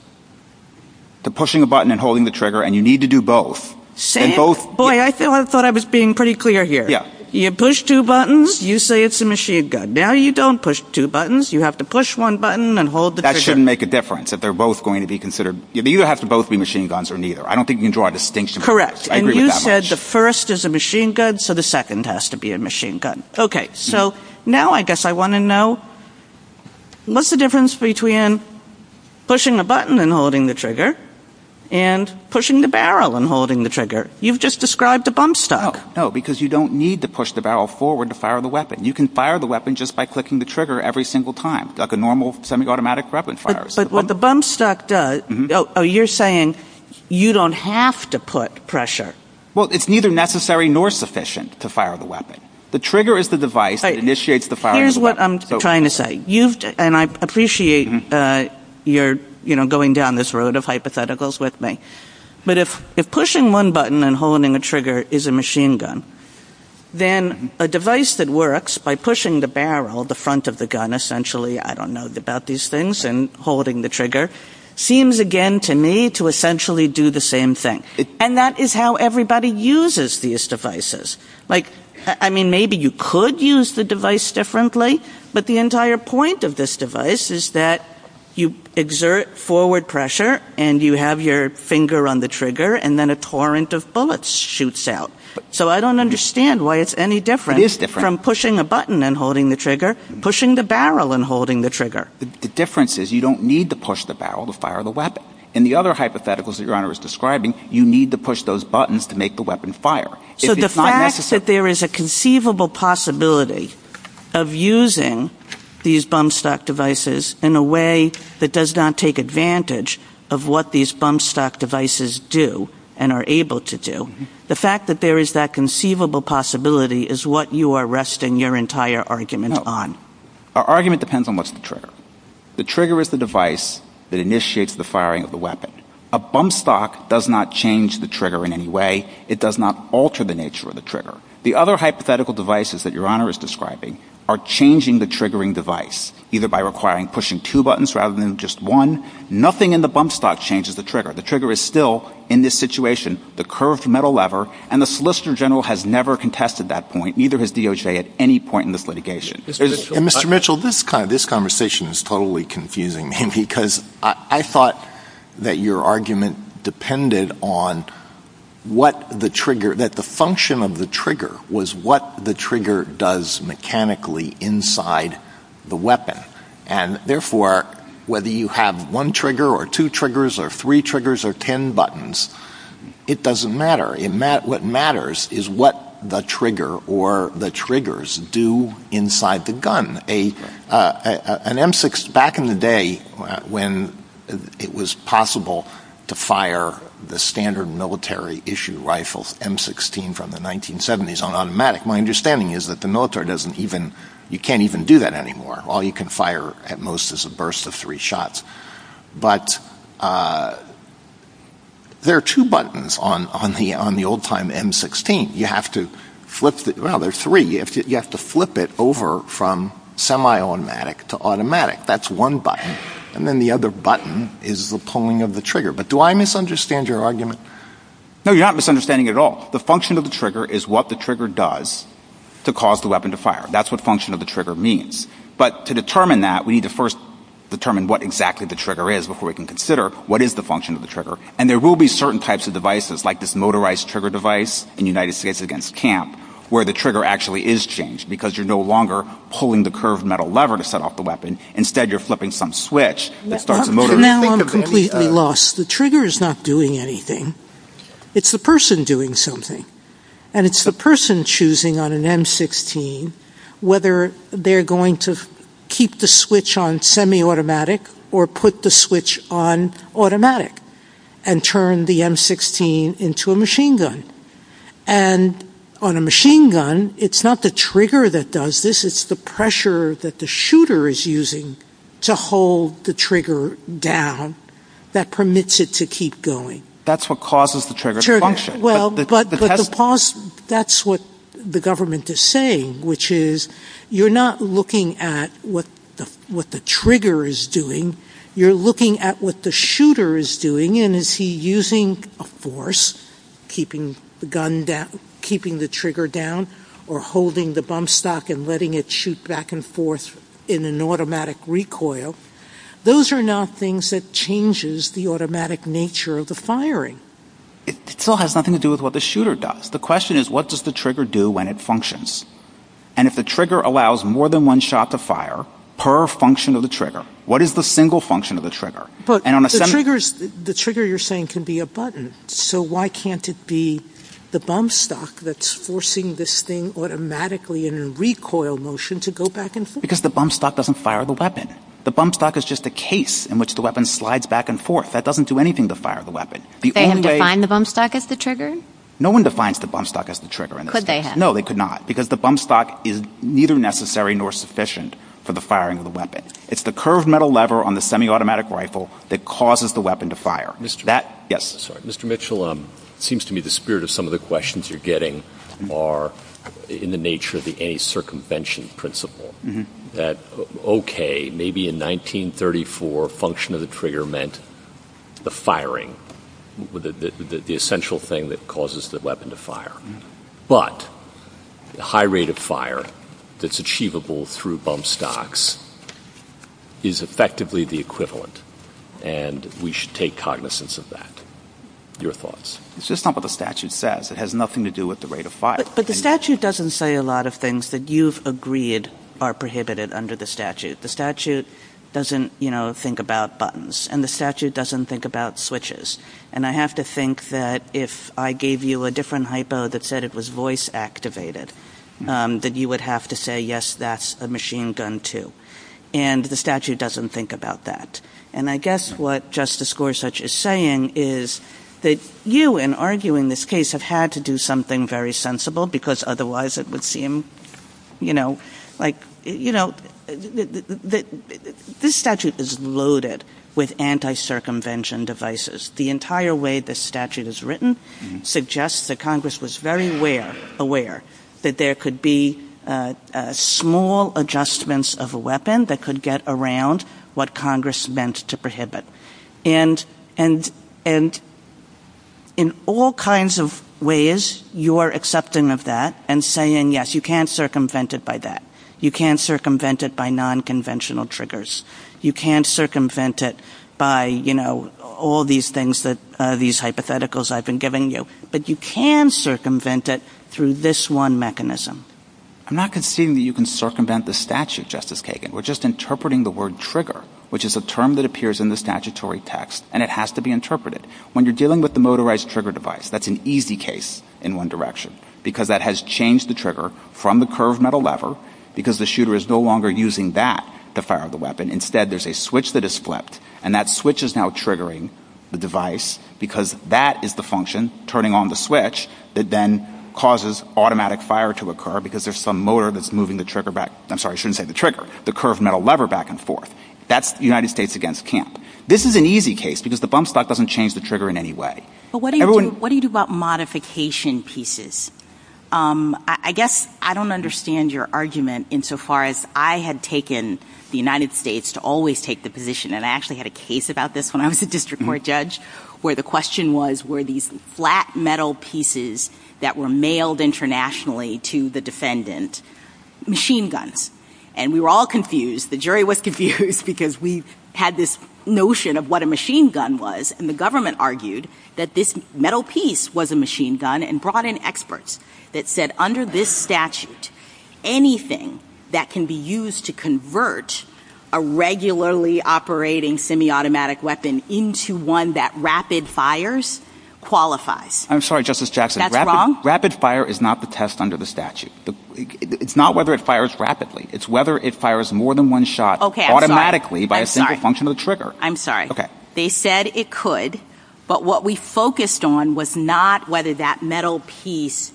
The pushing a button and holding the trigger and you need to do both. Same? Boy, I thought I was being pretty clear here. Yeah. You push two buttons, you say it's a machine gun. Now you don't push two buttons. You have to push one button and hold the trigger. That shouldn't make a difference that they're both going to be considered. It either has to both be machine guns or neither. I don't think you can draw a distinction. Correct. And you said the first is a machine gun, so the second has to be a machine gun. Okay. So now I guess I want to know, what's the difference between pushing a button and holding the trigger and pushing the barrel and holding the trigger? You've just described a bump stock. No, because you don't need to push the barrel forward to fire the weapon. You can fire the weapon just by clicking the trigger every single time, like a normal semi-automatic weapon fires. But what the bump stock does, Oh, you're saying you don't have to put pressure. Well, it's neither necessary nor sufficient to fire the weapon. The trigger is the device that initiates the firing of the weapon. Here's what I'm trying to say, and I appreciate you're going down this road of hypotheticals with me, but if pushing one button and holding the trigger is a machine gun, then a device that works by pushing the barrel, the front of the gun essentially, I don't know about these things, and holding the trigger, seems again to me to essentially do the same thing. And that is how everybody uses these devices. I mean, maybe you could use the device differently, but the entire point of this device is that you exert forward pressure and you have your finger on the trigger, and then a torrent of bullets shoots out. So I don't understand why it's any different from pushing a button and holding the trigger, pushing the barrel and holding the trigger. The difference is you don't need to push the barrel to fire the weapon. In the other hypotheticals that Your Honor is describing, you need to push those buttons to make the weapon fire. So the fact that there is a conceivable possibility of using these bump-stock devices in a way that does not take advantage of what these bump-stock devices do and are able to do, the fact that there is that conceivable possibility is what you are resting your entire argument on. Our argument depends on what's the trigger. The trigger is the device that initiates the firing of the weapon. A bump-stock does not change the trigger in any way. It does not alter the nature of the trigger. The other hypothetical devices that Your Honor is describing are changing the triggering device, either by requiring pushing two buttons rather than just one. Nothing in the bump-stock changes the trigger. The trigger is still, in this situation, the curved metal lever, and the Solicitor General has never contested that point, neither has DOJ at any point in this litigation. Mr. Mitchell, this conversation is totally confusing me because I thought that your argument depended on what the trigger, that the function of the trigger was what the trigger does mechanically inside the weapon. Therefore, whether you have one trigger or two triggers or three triggers or ten buttons, it doesn't matter. What matters is what the trigger or the triggers do inside the gun. Back in the day when it was possible to fire the standard military-issue rifles, M16 from the 1970s, on automatic, my understanding is that the military doesn't even, you can't even do that anymore. All you can fire at most is a burst of three shots. But there are two buttons on the old-time M16. You have to flip it over from semi-automatic to automatic. That's one button. And then the other button is the pulling of the trigger. But do I misunderstand your argument? No, you're not misunderstanding it at all. The function of the trigger is what the trigger does to cause the weapon to fire. That's what function of the trigger means. But to determine that, we need to first determine what exactly the trigger is before we can consider what is the function of the trigger. And there will be certain types of devices, like this motorized trigger device in the United States against camp, where the trigger actually is changed because you're no longer pulling the curved metal lever to set off the weapon. Instead, you're flipping some switch. Now I'm completely lost. The trigger is not doing anything. It's the person doing something. And it's the person choosing on an M16 whether they're going to keep the switch on semi-automatic or put the switch on automatic and turn the M16 into a machine gun. And on a machine gun, it's not the trigger that does this. It's the pressure that the shooter is using to hold the trigger down that permits it to keep going. That's what causes the trigger to function. Well, but that's what the government is saying, which is you're not looking at what the trigger is doing. You're looking at what the shooter is doing. And is he using a force, keeping the trigger down, or holding the bump stock and letting it shoot back and forth in an automatic recoil? Those are now things that changes the automatic nature of the firing. It still has nothing to do with what the shooter does. The question is, what does the trigger do when it functions? And if the trigger allows more than one shot to fire per function of the trigger, what is the single function of the trigger? The trigger, you're saying, can be a button. So why can't it be the bump stock that's forcing this thing automatically in a recoil motion to go back and forth? Because the bump stock doesn't fire the weapon. The bump stock is just a case in which the weapon slides back and forth. That doesn't do anything to fire the weapon. They haven't defined the bump stock as the trigger? No one defines the bump stock as the trigger. Could they have? No, they could not, because the bump stock is neither necessary nor sufficient for the firing of the weapon. It's the curved metal lever on the semi-automatic rifle that causes the weapon to fire. Mr. Mitchell, it seems to me the spirit of some of the questions you're getting are in the nature of the any circumvention principle, that, okay, maybe in 1934 a function of the trigger meant the firing, the essential thing that causes the weapon to fire. But the high rate of fire that's achievable through bump stocks is effectively the equivalent, and we should take cognizance of that. Your thoughts? It's just not what the statute says. It has nothing to do with the rate of fire. But the statute doesn't say a lot of things that you've agreed are prohibited under the statute. The statute doesn't think about buttons, and the statute doesn't think about switches. And I have to think that if I gave you a different hypo that said it was voice activated, that you would have to say, yes, that's a machine gun too. And the statute doesn't think about that. And I guess what Justice Gorsuch is saying is that you, in arguing this case, have had to do something very sensible because otherwise it would seem, you know, like, you know, this statute is loaded with anti-circumvention devices. The entire way this statute is written suggests that Congress was very aware that there could be small adjustments of a weapon that could get around what Congress meant to prohibit. And in all kinds of ways, you're accepting of that and saying, yes, you can circumvent it by that. You can circumvent it by nonconventional triggers. You can circumvent it by, you know, all these things that these hypotheticals I've been giving you. But you can circumvent it through this one mechanism. I'm not conceding that you can circumvent the statute, Justice Kagan. We're just interpreting the word trigger, which is a term that appears in the statutory text, and it has to be interpreted. When you're dealing with the motorized trigger device, that's an easy case in one direction because that has changed the trigger from the curved metal lever because the shooter is no longer using that to fire the weapon. Instead, there's a switch that is flipped, and that switch is now triggering the device because that is the function turning on the switch that then causes automatic fire to occur because there's some motor that's moving the trigger back. I'm sorry, I shouldn't say the trigger. The curved metal lever back and forth. That's United States against camp. This is an easy case because the bump stock doesn't change the trigger in any way. But what do you do about modification pieces? I guess I don't understand your argument insofar as I had taken the United States to always take the position, and I actually had a case about this when I was a district court judge, where the question was were these flat metal pieces that were mailed internationally to the defendant machine guns. And we were all confused. The jury was confused because we had this notion of what a machine gun was, and the government argued that this metal piece was a machine gun and brought in experts that said under this statute, anything that can be used to convert a regularly operating semi-automatic weapon into one that rapid fires qualifies. I'm sorry, Justice Jackson. That's wrong? Rapid fire is not the test under the statute. It's not whether it fires rapidly. It's whether it fires more than one shot automatically by a simple function of the trigger. I'm sorry. Okay. They said it could, but what we focused on was not whether that metal piece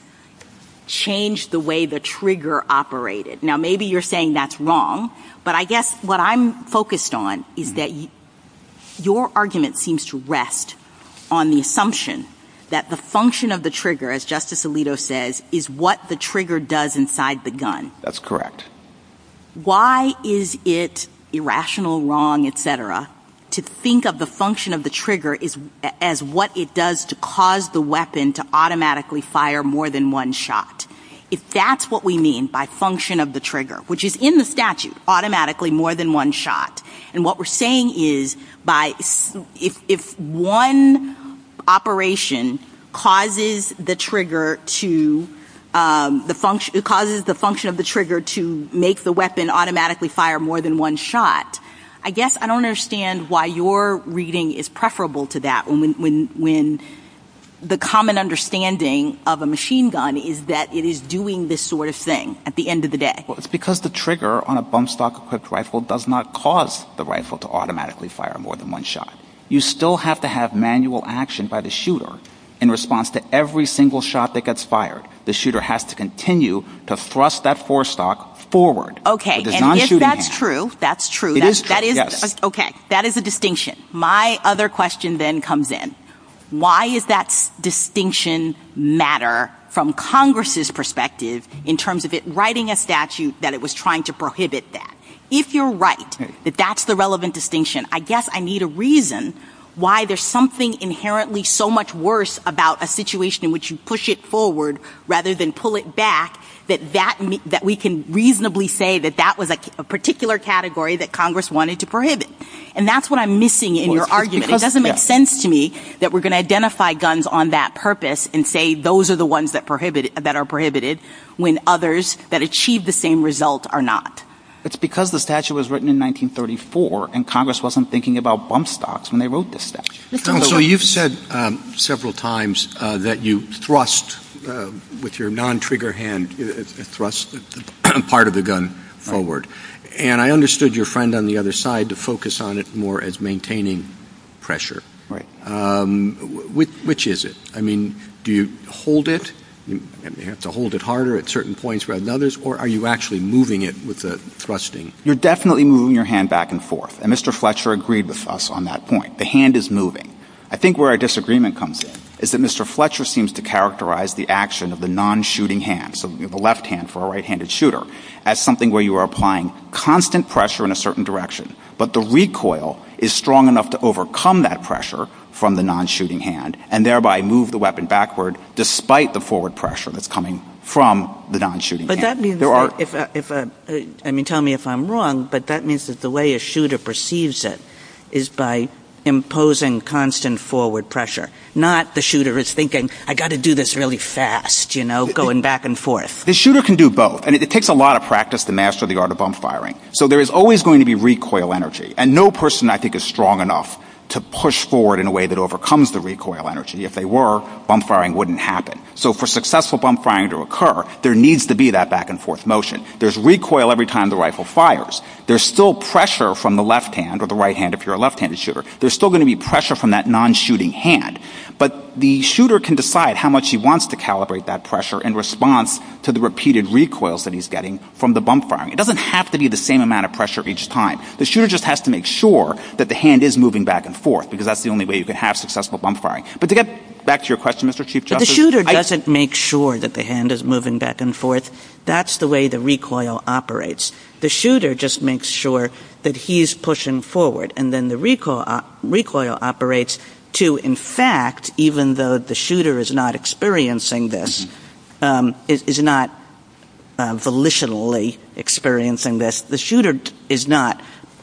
changed the way the trigger operated. Now, maybe you're saying that's wrong, but I guess what I'm focused on is that your argument seems to rest on the assumption that the function of the trigger, as Justice Alito says, is what the trigger does inside the gun. That's correct. Why is it irrational, wrong, et cetera, to think of the function of the trigger as what it does to cause the weapon to automatically fire more than one shot? If that's what we mean by function of the trigger, which is in the statute, automatically more than one shot, and what we're saying is if one operation causes the function of the trigger to make the weapon automatically fire more than one shot, I guess I don't understand why your reading is preferable to that when the common understanding of a machine gun is that it is doing this sort of thing at the end of the day. Well, it's because the trigger on a bump stock equipped rifle does not cause the rifle to automatically fire more than one shot. You still have to have manual action by the shooter in response to every single shot that gets fired. The shooter has to continue to thrust that four stock forward. Okay, and if that's true, that's true. It is true, yes. Okay. That is a distinction. My other question then comes in. Why does that distinction matter from Congress's perspective in terms of it writing a statute that it was trying to prohibit that? If you're right that that's the relevant distinction, I guess I need a reason why there's something inherently so much worse about a situation in which you push it forward rather than pull it back that we can reasonably say that that was a particular category that Congress wanted to prohibit. And that's what I'm missing in your argument. It doesn't make sense to me that we're going to identify guns on that purpose and say those are the ones that are prohibited when others that achieve the same result are not. It's because the statute was written in 1934 and Congress wasn't thinking about bump stocks when they wrote this statute. So you've said several times that you thrust with your non-trigger hand, thrust part of a gun forward. And I understood your friend on the other side to focus on it more as maintaining pressure. Right. Which is it? I mean, do you hold it? Do you have to hold it harder at certain points rather than others? Or are you actually moving it with the thrusting? You're definitely moving your hand back and forth. And Mr. Fletcher agreed with us on that point. The hand is moving. I think where our disagreement comes in is that Mr. Fletcher seems to characterize the action of the non-shooting hand, so the left hand for a right-handed shooter, as something where you are applying constant pressure in a certain direction, but the recoil is strong enough to overcome that pressure from the non-shooting hand and thereby move the weapon backward despite the forward pressure that's coming from the non-shooting hand. But that means that if I'm wrong, but that means that the way a shooter perceives it is by imposing constant forward pressure, not the shooter is thinking, I've got to do this really fast, you know, going back and forth. The shooter can do both. And it takes a lot of practice to master the art of bump firing. So there is always going to be recoil energy. And no person I think is strong enough to push forward in a way that overcomes the recoil energy. If they were, bump firing wouldn't happen. So for successful bump firing to occur, there needs to be that back and forth motion. There's recoil every time the rifle fires. There's still pressure from the left hand or the right hand if you're a left-handed shooter. There's still going to be pressure from that non-shooting hand. But the shooter can decide how much he wants to calibrate that pressure in response to the repeated recoils that he's getting from the bump firing. It doesn't have to be the same amount of pressure each time. The shooter just has to make sure that the hand is moving back and forth because that's the only way you can have successful bump firing. But to get back to your question, Mr. Chief Justice. But the shooter doesn't make sure that the hand is moving back and forth. That's the way the recoil operates. The shooter just makes sure that he's pushing forward and then the recoil operates to, in fact, even though the shooter is not experiencing this, is not volitionally experiencing this, the shooter is not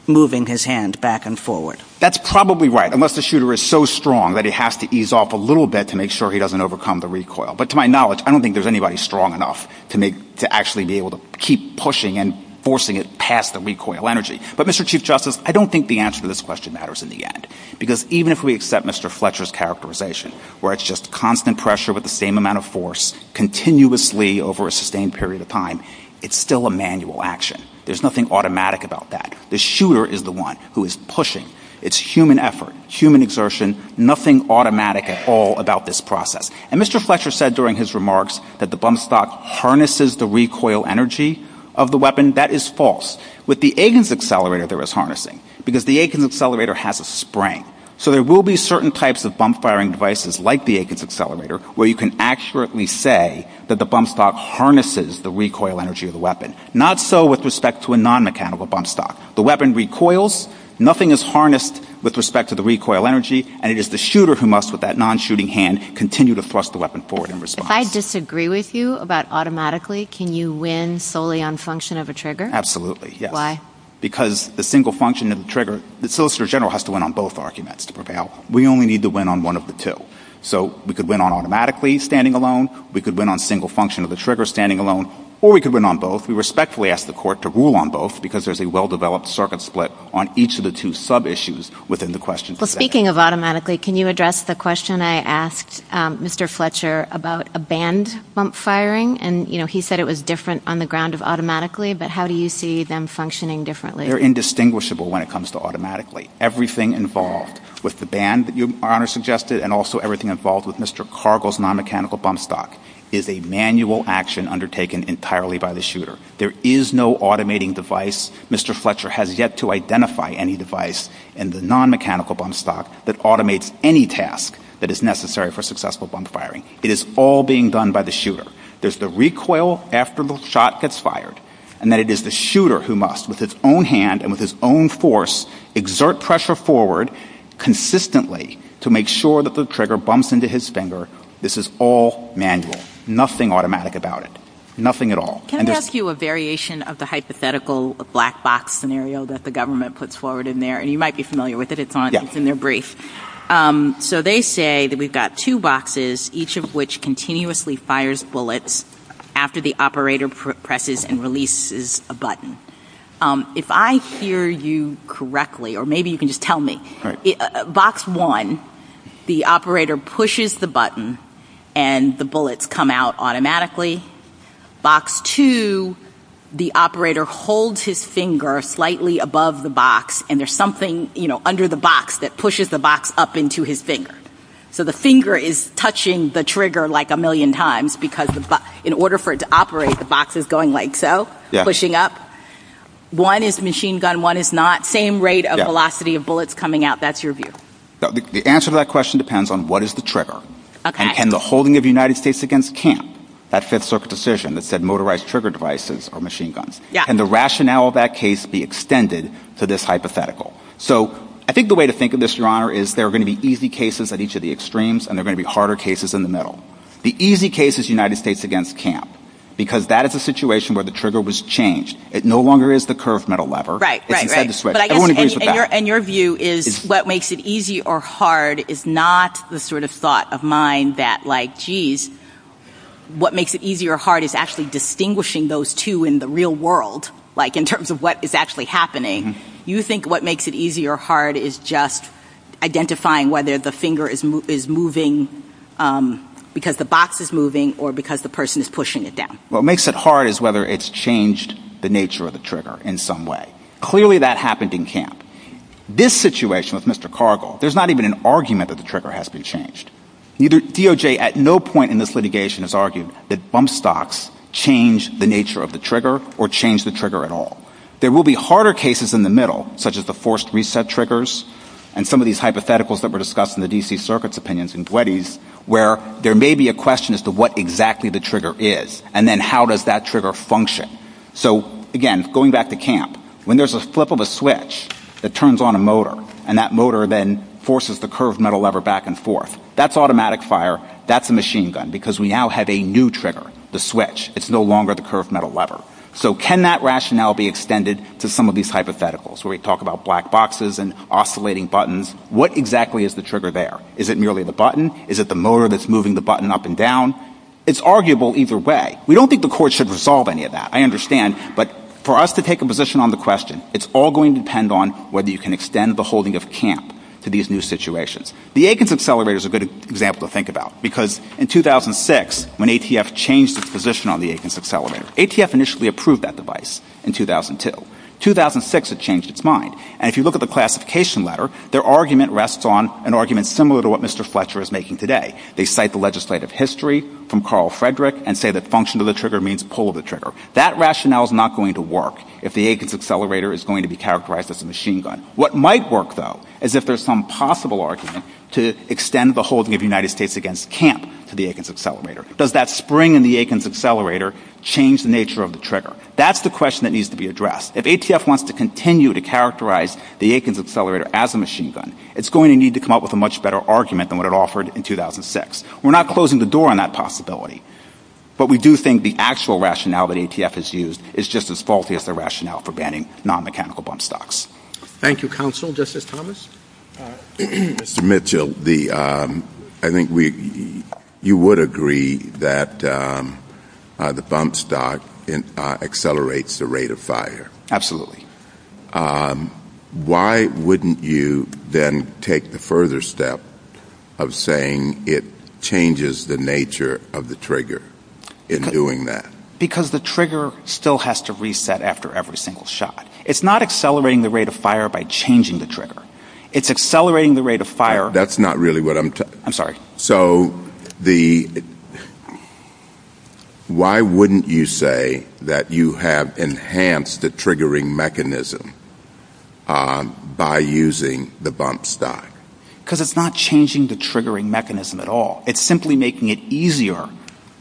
moving his hand back and forward. That's probably right, unless the shooter is so strong that he has to ease off a little bit to make sure he doesn't overcome the recoil. But to my knowledge, I don't think there's anybody strong enough to actually be able to keep pushing and forcing it past the recoil energy. But, Mr. Chief Justice, I don't think the answer to this question matters in the end. Because even if we accept Mr. Fletcher's characterization, where it's just constant pressure with the same amount of force continuously over a sustained period of time, it's still a manual action. There's nothing automatic about that. The shooter is the one who is pushing. It's human effort, human exertion, nothing automatic at all about this process. And Mr. Fletcher said during his remarks that the bump stock harnesses the recoil energy of the weapon. That is false. With the Egan's accelerator, there is harnessing. Because the Egan's accelerator has a spring. So there will be certain types of bump-firing devices like the Egan's accelerator where you can accurately say that the bump stock harnesses the recoil energy of the weapon. Not so with respect to a non-mechanical bump stock. The weapon recoils, nothing is harnessed with respect to the recoil energy, and it is the shooter who must, with that non-shooting hand, continue to thrust the weapon forward in response. If I disagree with you about automatically, can you win solely on function of a trigger? Absolutely, yes. Why? Because the single function of the trigger, the solicitor general has to win on both arguments to prevail. We only need to win on one of the two. So we could win on automatically standing alone, we could win on single function of the trigger standing alone, or we could win on both. We respectfully ask the court to rule on both because there's a well-developed circuit split on each of the two sub-issues within the question. Well, speaking of automatically, can you address the question I asked Mr. Fletcher about a band bump firing? And, you know, he said it was different on the ground of automatically, but how do you see them functioning differently? They're indistinguishable when it comes to automatically. Everything involved with the band, Your Honor suggested, and also everything involved with Mr. Cargill's non-mechanical bump stock is a manual action undertaken entirely by the shooter. There is no automating device. Mr. Fletcher has yet to identify any device in the non-mechanical bump stock that automates any task that is necessary for successful bump firing. It is all being done by the shooter. There's the recoil after the shot gets fired, and that it is the shooter who must, with his own hand and with his own force, exert pressure forward consistently to make sure that the trigger bumps into his finger. This is all manual. Nothing automatic about it. Nothing at all. Can I ask you a variation of the hypothetical black box scenario that the government puts forward in there? And you might be familiar with it. It's in their brief. So they say that we've got two boxes, each of which continuously fires bullets after the operator presses and releases a button. If I hear you correctly, or maybe you can just tell me, box one, the operator pushes the button and the bullets come out automatically. Box two, the operator holds his finger slightly above the box, and there's something under the box that pushes the box up into his finger. So the finger is touching the trigger like a million times because in order for it to operate, the box is going like so, pushing up. One is machine gun, one is not. Same rate of velocity of bullets coming out. That's your view. The answer to that question depends on what is the trigger and can the holding of the United States against camp, that Fifth Circuit decision that said motorized trigger devices or machine guns, can the rationale of that case be extended to this hypothetical? So I think the way to think of this, Your Honor, is there are going to be easy cases at each of the extremes and there are going to be harder cases in the middle. The easy case is United States against camp because that is a situation where the trigger was changed. It no longer is the curved metal lever. Right, right, right. And your view is what makes it easy or hard is not the sort of thought of mine that like, geez, what makes it easy or hard is actually distinguishing those two in the real world, like in terms of what is actually happening. You think what makes it easy or hard is just identifying whether the finger is moving because the box is moving or because the person is pushing it down. What makes it hard is whether it's changed the nature of the trigger in some way. Clearly that happened in camp. This situation with Mr. Cargill, there's not even an argument that the trigger has to be changed. DOJ at no point in this litigation has argued that bump stocks change the nature of the trigger or change the trigger at all. There will be harder cases in the middle, such as the forced reset triggers and some of these hypotheticals that were discussed in the D.C. Circuit's opinions in 20s where there may be a question as to what exactly the trigger is and then how does that trigger function. So, again, going back to camp, when there's a flip of a switch that turns on a motor and that motor then forces the curved metal lever back and forth, that's automatic fire, that's a machine gun because we now have a new trigger, the switch. It's no longer the curved metal lever. So can that rationale be extended to some of these hypotheticals where we talk about black boxes and oscillating buttons? What exactly is the trigger there? Is it merely the button? Is it the motor that's moving the button up and down? It's arguable either way. We don't think the court should resolve any of that. I understand, but for us to take a position on the question, it's all going to depend on whether you can extend the holding of camp to these new situations. The Atkins Accelerator is a good example to think about because in 2006, when ATF changed its position on the Atkins Accelerator, ATF initially approved that device in 2002. 2006, it changed its mind. And if you look at the classification letter, their argument rests on an argument similar to what Mr. Fletcher is making today. They cite the legislative history from Carl Frederick and say that function of the trigger means pull of the trigger. That rationale is not going to work if the Atkins Accelerator is going to be characterized as a machine gun. What might work, though, is if there's some possible argument to extend the holding of the United States against camp to the Atkins Accelerator. Does that spring in the Atkins Accelerator change the nature of the trigger? That's the question that needs to be addressed. If ATF wants to continue to characterize the Atkins Accelerator as a machine gun, it's going to need to come up with a much better argument than what it offered in 2006. We're not closing the door on that possibility, but we do think the actual rationale that ATF has used is just as faulty as the rationale for banning non-mechanical bump stocks. Thank you, counsel. Justice Thomas? Mr. Mitchell, I think you would agree that the bump stock accelerates the rate of fire. Absolutely. Why wouldn't you then take the further step of saying it changes the nature of the trigger in doing that? Because the trigger still has to reset after every single shot. It's not accelerating the rate of fire by changing the trigger. It's accelerating the rate of fire... So, why wouldn't you say that you have enhanced the triggering mechanism by using the bump stock? Because it's not changing the triggering mechanism at all. It's simply making it easier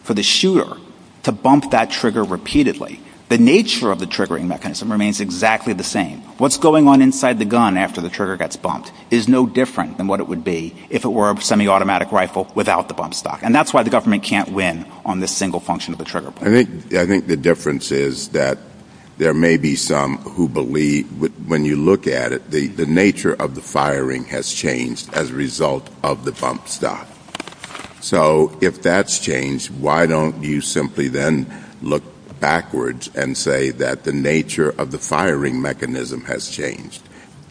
for the shooter to bump that trigger repeatedly. The nature of the triggering mechanism remains exactly the same. What's going on inside the gun after the trigger gets bumped is no different than what it would be if it were a semi-automatic rifle without the bump stock. And that's why the government can't win on this single function of a trigger point. I think the difference is that there may be some who believe, when you look at it, the nature of the firing has changed as a result of the bump stock. So, if that's changed, why don't you simply then look backwards and say that the nature of the firing mechanism has changed,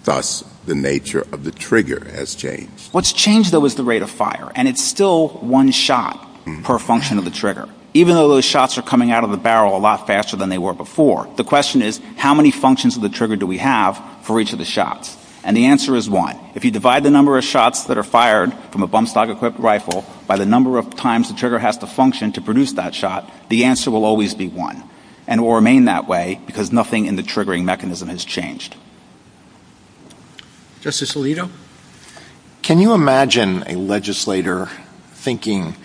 thus the nature of the trigger has changed. What's changed, though, is the rate of fire. And it's still one shot per function of the trigger. Even though those shots are coming out of the barrel a lot faster than they were before, the question is, how many functions of the trigger do we have for each of the shots? And the answer is one. If you divide the number of shots that are fired from a bump stock-equipped rifle by the number of times the trigger has to function to produce that shot, the answer will always be one. And it will remain that way because nothing in the triggering mechanism has changed. Justice Alito, can you imagine a legislator thinking,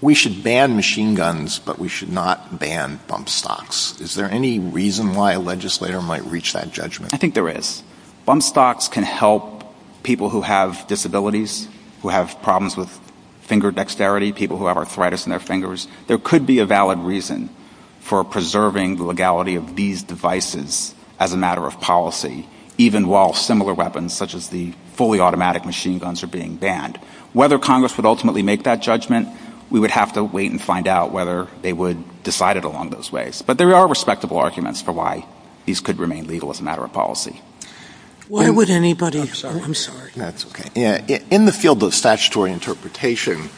we should ban machine guns, but we should not ban bump stocks? Is there any reason why a legislator might reach that judgment? I think there is. Bump stocks can help people who have disabilities, who have problems with finger dexterity, people who have arthritis in their fingers. There could be a valid reason for preserving the legality of these devices as a matter of policy, even while similar weapons such as the fully automatic machine guns are being banned. Whether Congress would ultimately make that judgment, we would have to wait and find out whether they would decide it along those ways. But there are respectable arguments for why these could remain legal as a matter of policy. Why would anybody... I'm sorry. That's okay. In the field of statutory interpretation,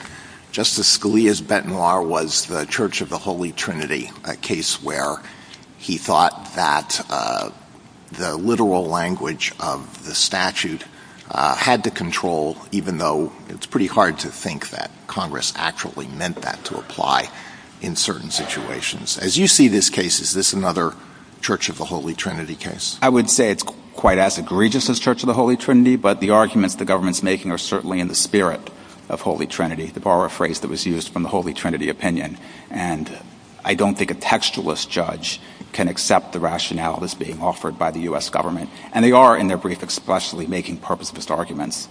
Justice Scalia's benoir was the Church of the Holy Trinity, a case where he thought that the literal language of the statute had to control, even though it's pretty hard to think that Congress actually meant that to apply in certain situations. As you see this case, is this another Church of the Holy Trinity case? I would say it's quite as egregious as Church of the Holy Trinity, but the arguments the government's making are certainly in the spirit of Holy Trinity, to borrow a phrase that was used from the Holy Trinity opinion. And I don't think a textualist judge can accept the rationale that's being offered by the U.S. government. And they are, in their brief, expressly making purposeless arguments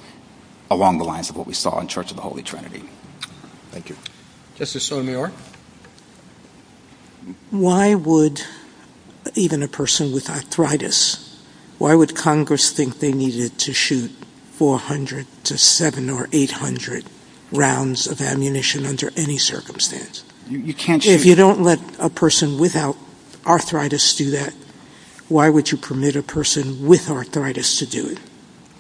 along the lines of what we saw in Church of the Holy Trinity. Thank you. Justice Sotomayor? Why would even a person with arthritis, why would Congress think they needed to shoot 400 to 700 or 800 rounds of ammunition under any circumstance? If you don't let a person without arthritis do that, why would you permit a person with arthritis to do it?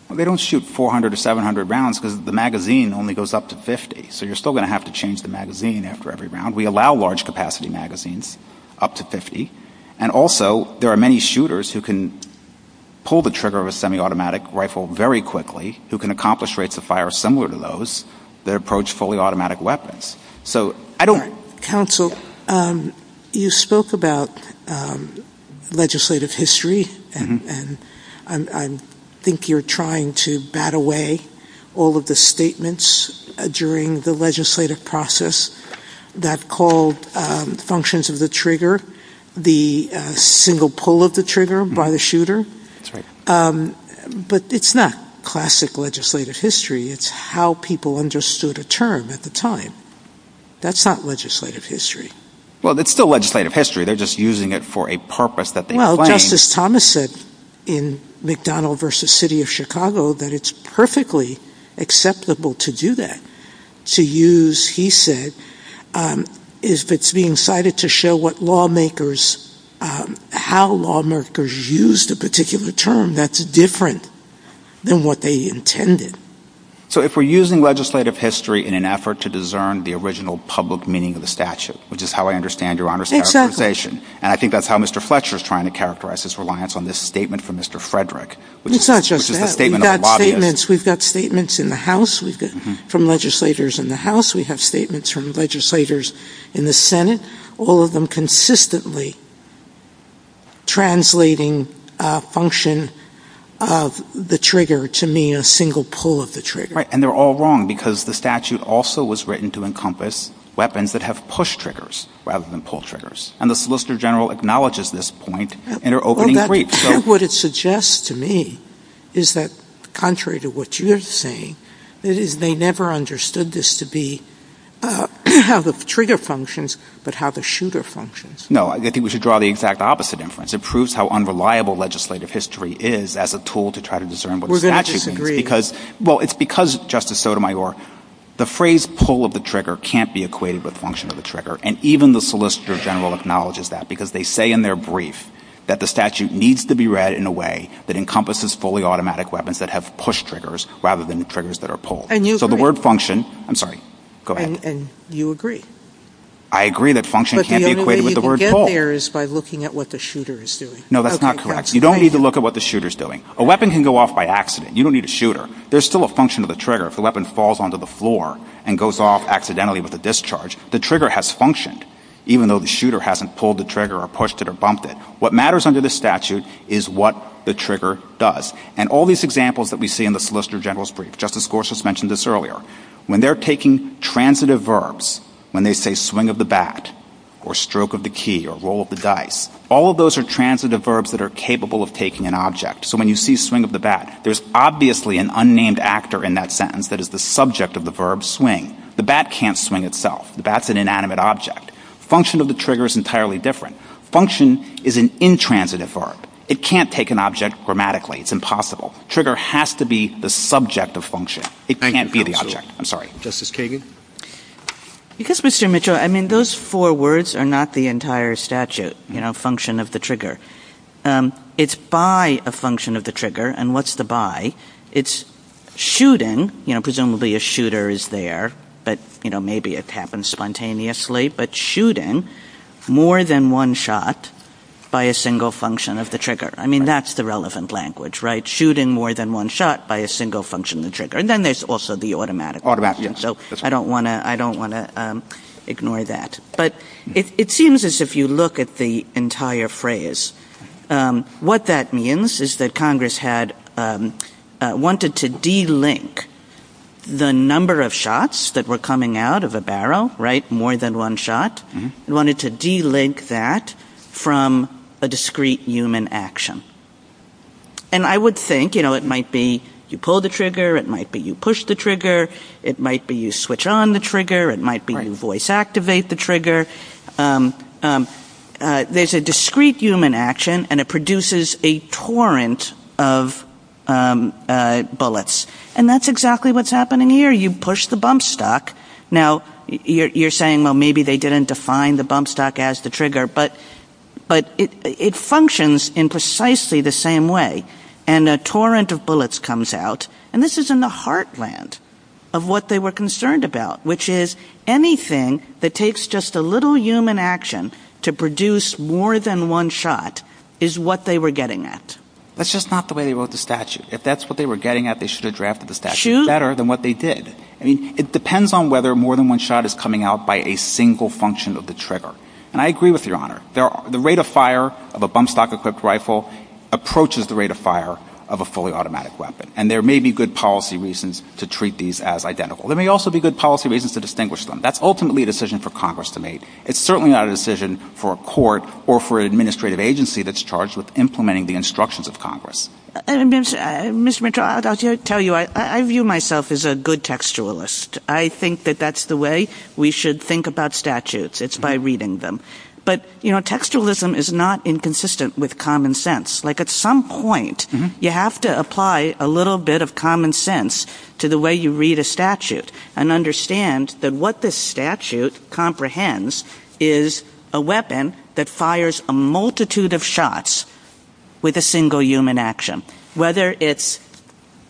They don't shoot 400 or 700 rounds because the magazine only goes up to 50. So you're still going to have to change the magazine after every round. We allow large capacity magazines up to 50. And also, there are many shooters who can pull the trigger of a semi-automatic rifle very quickly, who can accomplish rates of fire similar to those that approach fully automatic weapons. Counsel, you spoke about legislative history, and I think you're trying to bat away all of the statements during the legislative process that called functions of the trigger, the single pull of the trigger by the shooter. But it's not classic legislative history. It's how people understood a term at the time. That's not legislative history. Well, it's still legislative history. They're just using it for a purpose that they claim. Well, Justice Thomas said in McDonald v. City of Chicago that it's perfectly acceptable to do that, to use, he said, it's being cited to show how lawmakers used a particular term that's different than what they intended. So if we're using legislative history in an effort to discern the original public meaning of the statute, which is how I understand your conversation, and I think that's how Mr. Fletcher is trying to characterize his reliance on this statement from Mr. Frederick. It's not just that. We've got statements from legislators in the House. We have statements from legislators in the Senate, all of them consistently translating function of the trigger to mean a single pull of the trigger. Right. And they're all wrong because the statute also was written to encompass weapons that have push triggers rather than pull triggers. And the Solicitor General acknowledges this point in their opening brief. What it suggests to me is that contrary to what you're saying, they never understood this to be how the trigger functions but how the shooter functions. No, I think we should draw the exact opposite inference. It proves how unreliable legislative history is as a tool to try to discern what the statute means. We're going to disagree. Well, it's because, Justice Sotomayor, the phrase pull of the trigger can't be equated with function of the trigger, and even the Solicitor General acknowledges that because they say in their brief that the statute needs to be read in a way that encompasses fully automatic weapons that have push triggers rather than triggers that are pull. And you agree. I'm sorry. Go ahead. And you agree. I agree that function can't be equated with the word pull. But the only way you can get there is by looking at what the shooter is doing. No, that's not correct. You don't need to look at what the shooter is doing. A weapon can go off by accident. You don't need a shooter. There's still a function of the trigger. If a weapon falls onto the floor and goes off accidentally with a discharge, the trigger has functioned, even though the shooter hasn't pulled the trigger or pushed it or bumped it. What matters under the statute is what the trigger does. And all these examples that we see in the Solicitor General's brief, Justice Gorsuch mentioned this earlier, when they're taking transitive verbs, when they say swing of the bat or stroke of the key or roll of the dice, all of those are transitive verbs that are capable of taking an object. So when you see swing of the bat, there's obviously an unnamed actor in that sentence that is the subject of the verb swing. The bat can't swing itself. The bat's an inanimate object. Function of the trigger is entirely different. Function is an intransitive verb. It can't take an object grammatically. It's impossible. Trigger has to be the subject of function. It can't be the object. I'm sorry. Justice Kagan? Because, Mr. Mitchell, I mean, those four words are not the entire statute, you know, function of the trigger. It's by a function of the trigger, and what's the by? It's shooting, you know, presumably a shooter is there, but, you know, maybe it happens spontaneously, but shooting more than one shot by a single function of the trigger. I mean, that's the relevant language, right? Shooting more than one shot by a single function of the trigger. And then there's also the automatic. Automatic, yes. So I don't want to ignore that. But it seems as if you look at the entire phrase. What that means is that Congress had wanted to delink the number of shots that were coming out of a barrel, right, more than one shot, wanted to delink that from a discrete human action. And I would think, you know, it might be you pull the trigger. It might be you push the trigger. It might be you switch on the trigger. It might be you voice activate the trigger. There's a discrete human action, and it produces a torrent of bullets. And that's exactly what's happening here. You push the bump stock. Now, you're saying, well, maybe they didn't define the bump stock as the trigger, but it functions in precisely the same way. And a torrent of bullets comes out, and this is in the heartland of what they were concerned about, which is anything that takes just a little human action to produce more than one shot is what they were getting at. That's just not the way they wrote the statute. If that's what they were getting at, they should have drafted the statute better than what they did. I mean, it depends on whether more than one shot is coming out by a single function of the trigger. And I agree with Your Honor. The rate of fire of a bump stock-equipped rifle approaches the rate of fire of a fully automatic weapon. And there may be good policy reasons to treat these as identical. There may also be good policy reasons to distinguish them. That's ultimately a decision for Congress to make. It's certainly not a decision for a court or for an administrative agency that's charged with implementing the instructions of Congress. Mr. Mitchell, I'll tell you, I view myself as a good textualist. I think that that's the way we should think about statutes. It's by reading them. But, you know, textualism is not inconsistent with common sense. Like, at some point, you have to apply a little bit of common sense to the way you read a statute and understand that what this statute comprehends is a weapon that fires a multitude of shots with a single human action, whether it's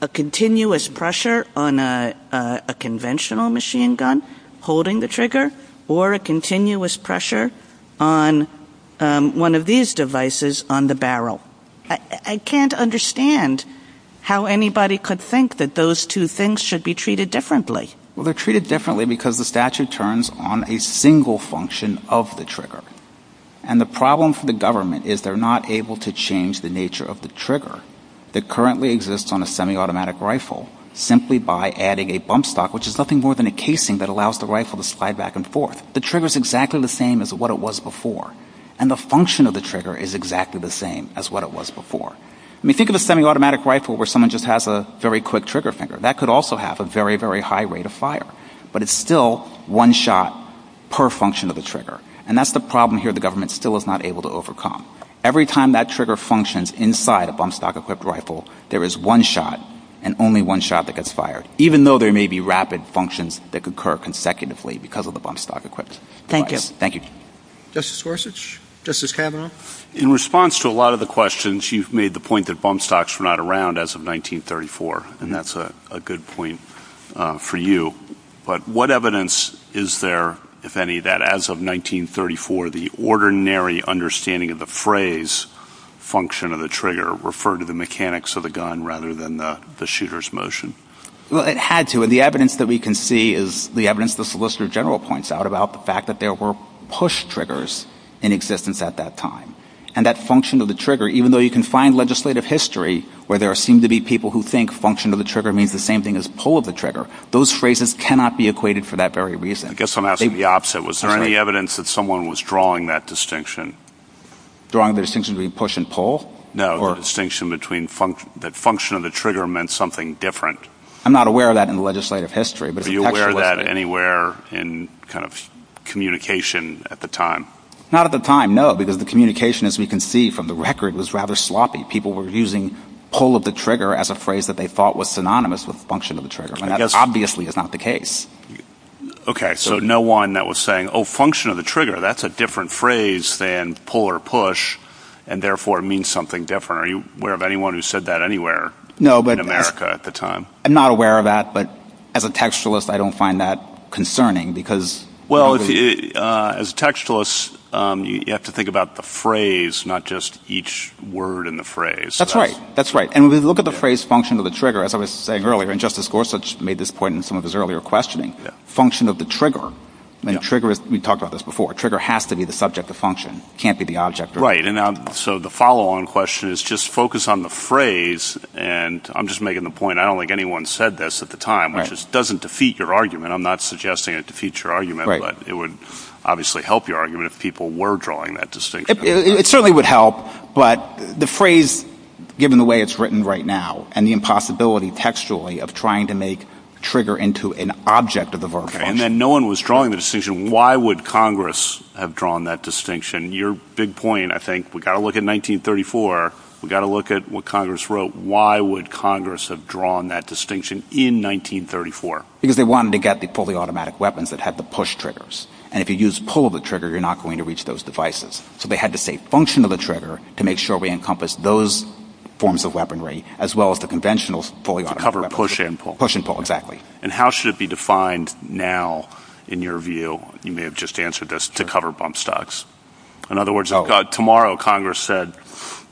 a continuous pressure on a conventional machine gun holding the trigger or a continuous pressure on one of these devices on the barrel. I can't understand how anybody could think that those two things should be treated differently. Well, they're treated differently because the statute turns on a single function of the trigger. And the problem for the government is they're not able to change the nature of the trigger that currently exists on a semi-automatic rifle simply by adding a bump stock, which is nothing more than a casing that allows the rifle to slide back and forth. The trigger is exactly the same as what it was before. And the function of the trigger is exactly the same as what it was before. I mean, think of a semi-automatic rifle where someone just has a very quick trigger finger. That could also have a very, very high rate of fire. But it's still one shot per function of the trigger. And that's the problem here the government still is not able to overcome. Every time that trigger functions inside a bump stock equipped rifle, there is one shot and only one shot that gets fired. Even though there may be rapid functions that occur consecutively because of the bump stock equipped. Thank you. Thank you. Justice Gorsuch? Justice Kavanaugh? In response to a lot of the questions, you've made the point that bump stocks were not around as of 1934. And that's a good point for you. But what evidence is there, if any, that as of 1934, the ordinary understanding of the phrase function of the trigger referred to the mechanics of the gun rather than the shooter's motion? Well, it had to. And the evidence that we can see is the evidence the Solicitor General points out about the fact that there were push triggers in existence at that time. And that function of the trigger, even though you can find legislative history where there seem to be people who think function of the trigger means the same thing as pull of the trigger, those phrases cannot be equated for that very reason. I guess I'm asking the opposite. Was there any evidence that someone was drawing that distinction? Drawing the distinction between push and pull? No, the distinction between the function of the trigger meant something different. I'm not aware of that in legislative history. Are you aware of that anywhere in communication at the time? Not at the time, no, because the communication, as we can see from the record, was rather sloppy. People were using pull of the trigger as a phrase that they thought was synonymous with function of the trigger. And that obviously is not the case. Okay, so no one that was saying, oh, function of the trigger, that's a different phrase than pull or push, and therefore means something different. Are you aware of anyone who said that anywhere in America at the time? I'm not aware of that, but as a textualist, I don't find that concerning because Well, as a textualist, you have to think about the phrase, not just each word in the phrase. That's right, that's right. And we look at the phrase function of the trigger, as I was saying earlier, and Justice Gorsuch made this point in some of his earlier questioning. Function of the trigger. We talked about this before. Trigger has to be the subject of function. It can't be the object of function. Right, and so the follow-on question is just focus on the phrase, and I'm just making the point, I don't think anyone said this at the time, which doesn't defeat your argument. I'm not suggesting it defeats your argument, but it would obviously help your argument if people were drawing that distinction. It certainly would help, but the phrase, given the way it's written right now, and the impossibility textually of trying to make trigger into an object of the verb. And then no one was drawing the distinction. Why would Congress have drawn that distinction? Your big point, I think, we've got to look at 1934. We've got to look at what Congress wrote. Why would Congress have drawn that distinction in 1934? Because they wanted to get the fully automatic weapons that had the push triggers, and if you use pull of the trigger, you're not going to reach those devices. So they had to say function of the trigger to make sure we encompass those forms of weaponry, as well as the conventional fully automatic weaponry. To cover push and pull. Push and pull, exactly. And how should it be defined now, in your view, you may have just answered this, to cover bump stocks. In other words, if tomorrow Congress said,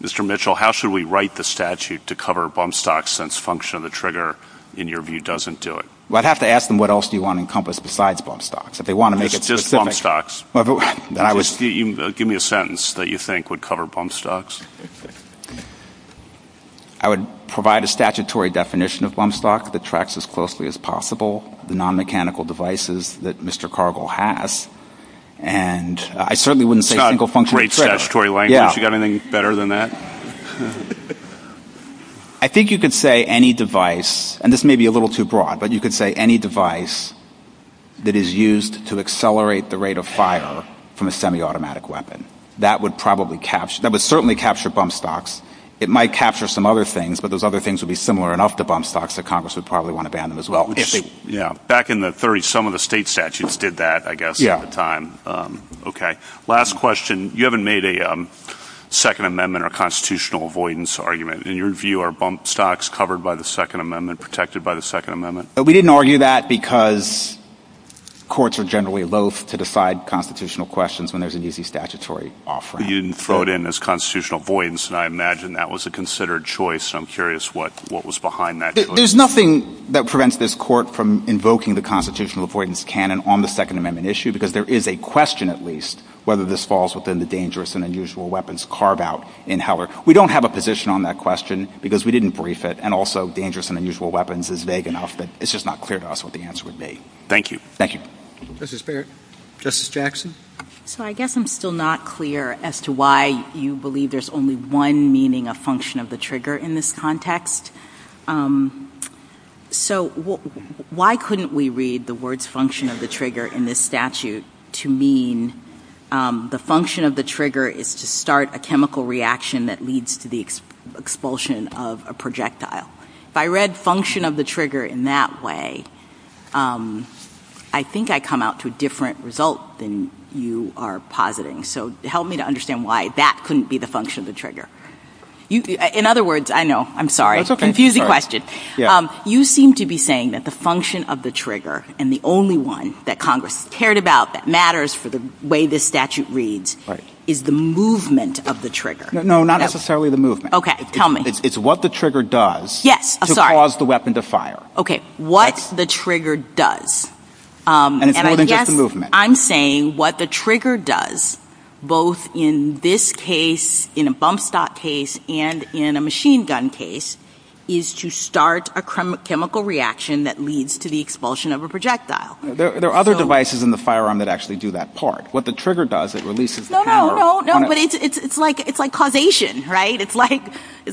Mr. Mitchell, how should we write the statute to cover bump stocks since function of the trigger, in your view, doesn't do it? Well, I'd have to ask them what else do you want to encompass besides bump stocks. If they want to make it specific. Just bump stocks. Give me a sentence that you think would cover bump stocks. I would provide a statutory definition of bump stock that tracks as closely as possible the non-mechanical devices that Mr. Cargill has. And I certainly wouldn't say single function of the trigger. It's not a great statutory language. You got anything better than that? I think you could say any device, and this may be a little too broad, but you could say any device that is used to accelerate the rate of fire from a semi-automatic weapon. That would certainly capture bump stocks. It might capture some other things, but those other things would be similar enough to bump stocks that Congress would probably want to ban them as well. Back in the 30s, some of the state statutes did that, I guess, at the time. Last question. You haven't made a Second Amendment or constitutional avoidance argument. In your view, are bump stocks covered by the Second Amendment, protected by the Second Amendment? We didn't argue that because courts are generally loath to decide constitutional questions when there's an easy statutory offering. You didn't throw it in as constitutional avoidance, and I imagine that was a considered choice. I'm curious what was behind that choice. There's nothing that prevents this court from invoking the constitutional avoidance canon on the Second Amendment issue, because there is a question, at least, whether this falls within the dangerous and unusual weapons carve-out in Heller. We don't have a position on that question because we didn't brief it, and also dangerous and unusual weapons is vague enough, but it's just not clear to us what the answer would be. Thank you. Thank you. Justice Barrett. Justice Jackson. So I guess I'm still not clear as to why you believe there's only one meaning of function of the trigger in this context. So why couldn't we read the words function of the trigger in this statute to mean the function of the trigger is to start a chemical reaction that leads to the expulsion of a projectile? If I read function of the trigger in that way, I think I come out to a different result than you are positing. So help me to understand why that couldn't be the function of the trigger. In other words, I know, I'm sorry. That's okay. Confusing question. You seem to be saying that the function of the trigger and the only one that Congress cared about that matters for the way this statute reads is the movement of the trigger. No, not necessarily the movement. Okay. Tell me. It's what the trigger does to cause the weapon to fire. Okay. What the trigger does. And it's moving with the movement. I'm saying what the trigger does, both in this case, in a bump stop case, and in a machine gun case, is to start a chemical reaction that leads to the expulsion of a projectile. There are other devices in the firearm that actually do that part. What the trigger does, it releases the power. No, no, no. But it's like causation, right? It's like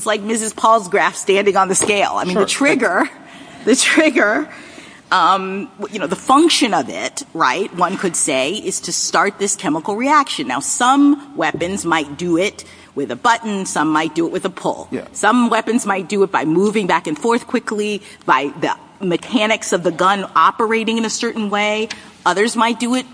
Mrs. Paul's graph standing on the scale. I mean, the trigger, the trigger, you know, the function of it, right, one could say is to start this chemical reaction. Now, some weapons might do it with a button. Some might do it with a pull. Some weapons might do it by moving back and forth quickly, by the mechanics of the gun operating in a certain way. Others might do it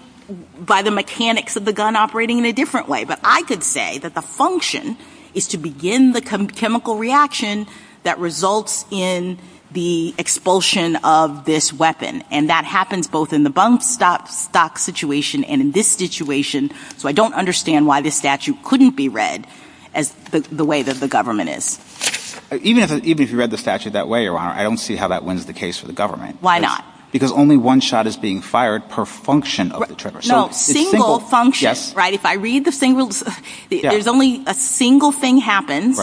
by the mechanics of the gun operating in a different way. But I could say that the function is to begin the chemical reaction that results in the expulsion of this weapon. And that happens both in the bump stop situation and in this situation. So I don't understand why this statute couldn't be read the way that the government is. Even if you read the statute that way, Your Honor, I don't see how that wins the case for the government. Why not? Because only one shot is being fired per function of the trigger. No, single function. Right? If I read the single, there's only a single thing happened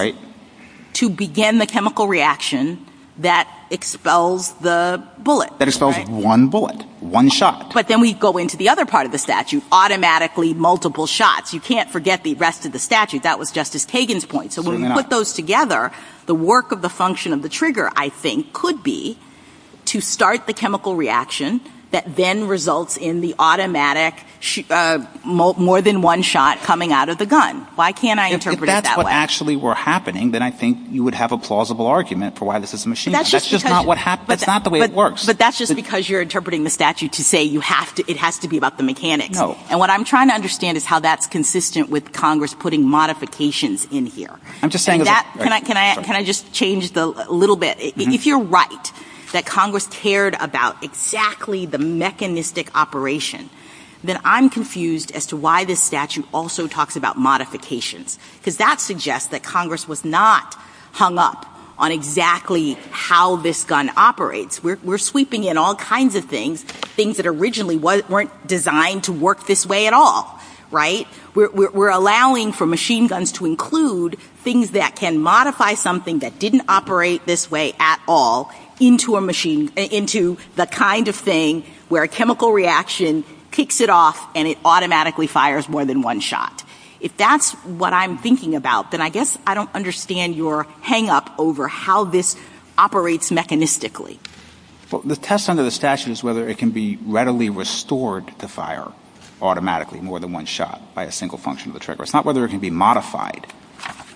to begin the chemical reaction that expels the bullet. That expels one bullet, one shot. But then we go into the other part of the statute, automatically multiple shots. You can't forget the rest of the statute. That was Justice Kagan's point. So when you put those together, the work of the function of the trigger, I think, could be to start the chemical reaction that then results in the automatic more than one shot coming out of the gun. Why can't I interpret it that way? If that's what actually were happening, then I think you would have a plausible argument for why this is a machine gun. That's just not what happens. That's not the way it works. But that's just because you're interpreting the statute to say it has to be about the mechanics. No. And what I'm trying to understand is how that's consistent with Congress putting modifications in here. Can I just change a little bit? If you're right that Congress cared about exactly the mechanistic operation, then I'm confused as to why this statute also talks about modification. Because that suggests that Congress was not hung up on exactly how this gun operates. We're sweeping in all kinds of things, things that originally weren't designed to work this way at all. Right? We're allowing for machine guns to include things that can modify something that didn't operate this way at all into the kind of thing where a chemical reaction picks it off and it automatically fires more than one shot. If that's what I'm thinking about, then I guess I don't understand your hangup over how this operates mechanistically. Well, the test under the statute is whether it can be readily restored to fire automatically more than one shot by a single function of the trigger. It's not whether it can be modified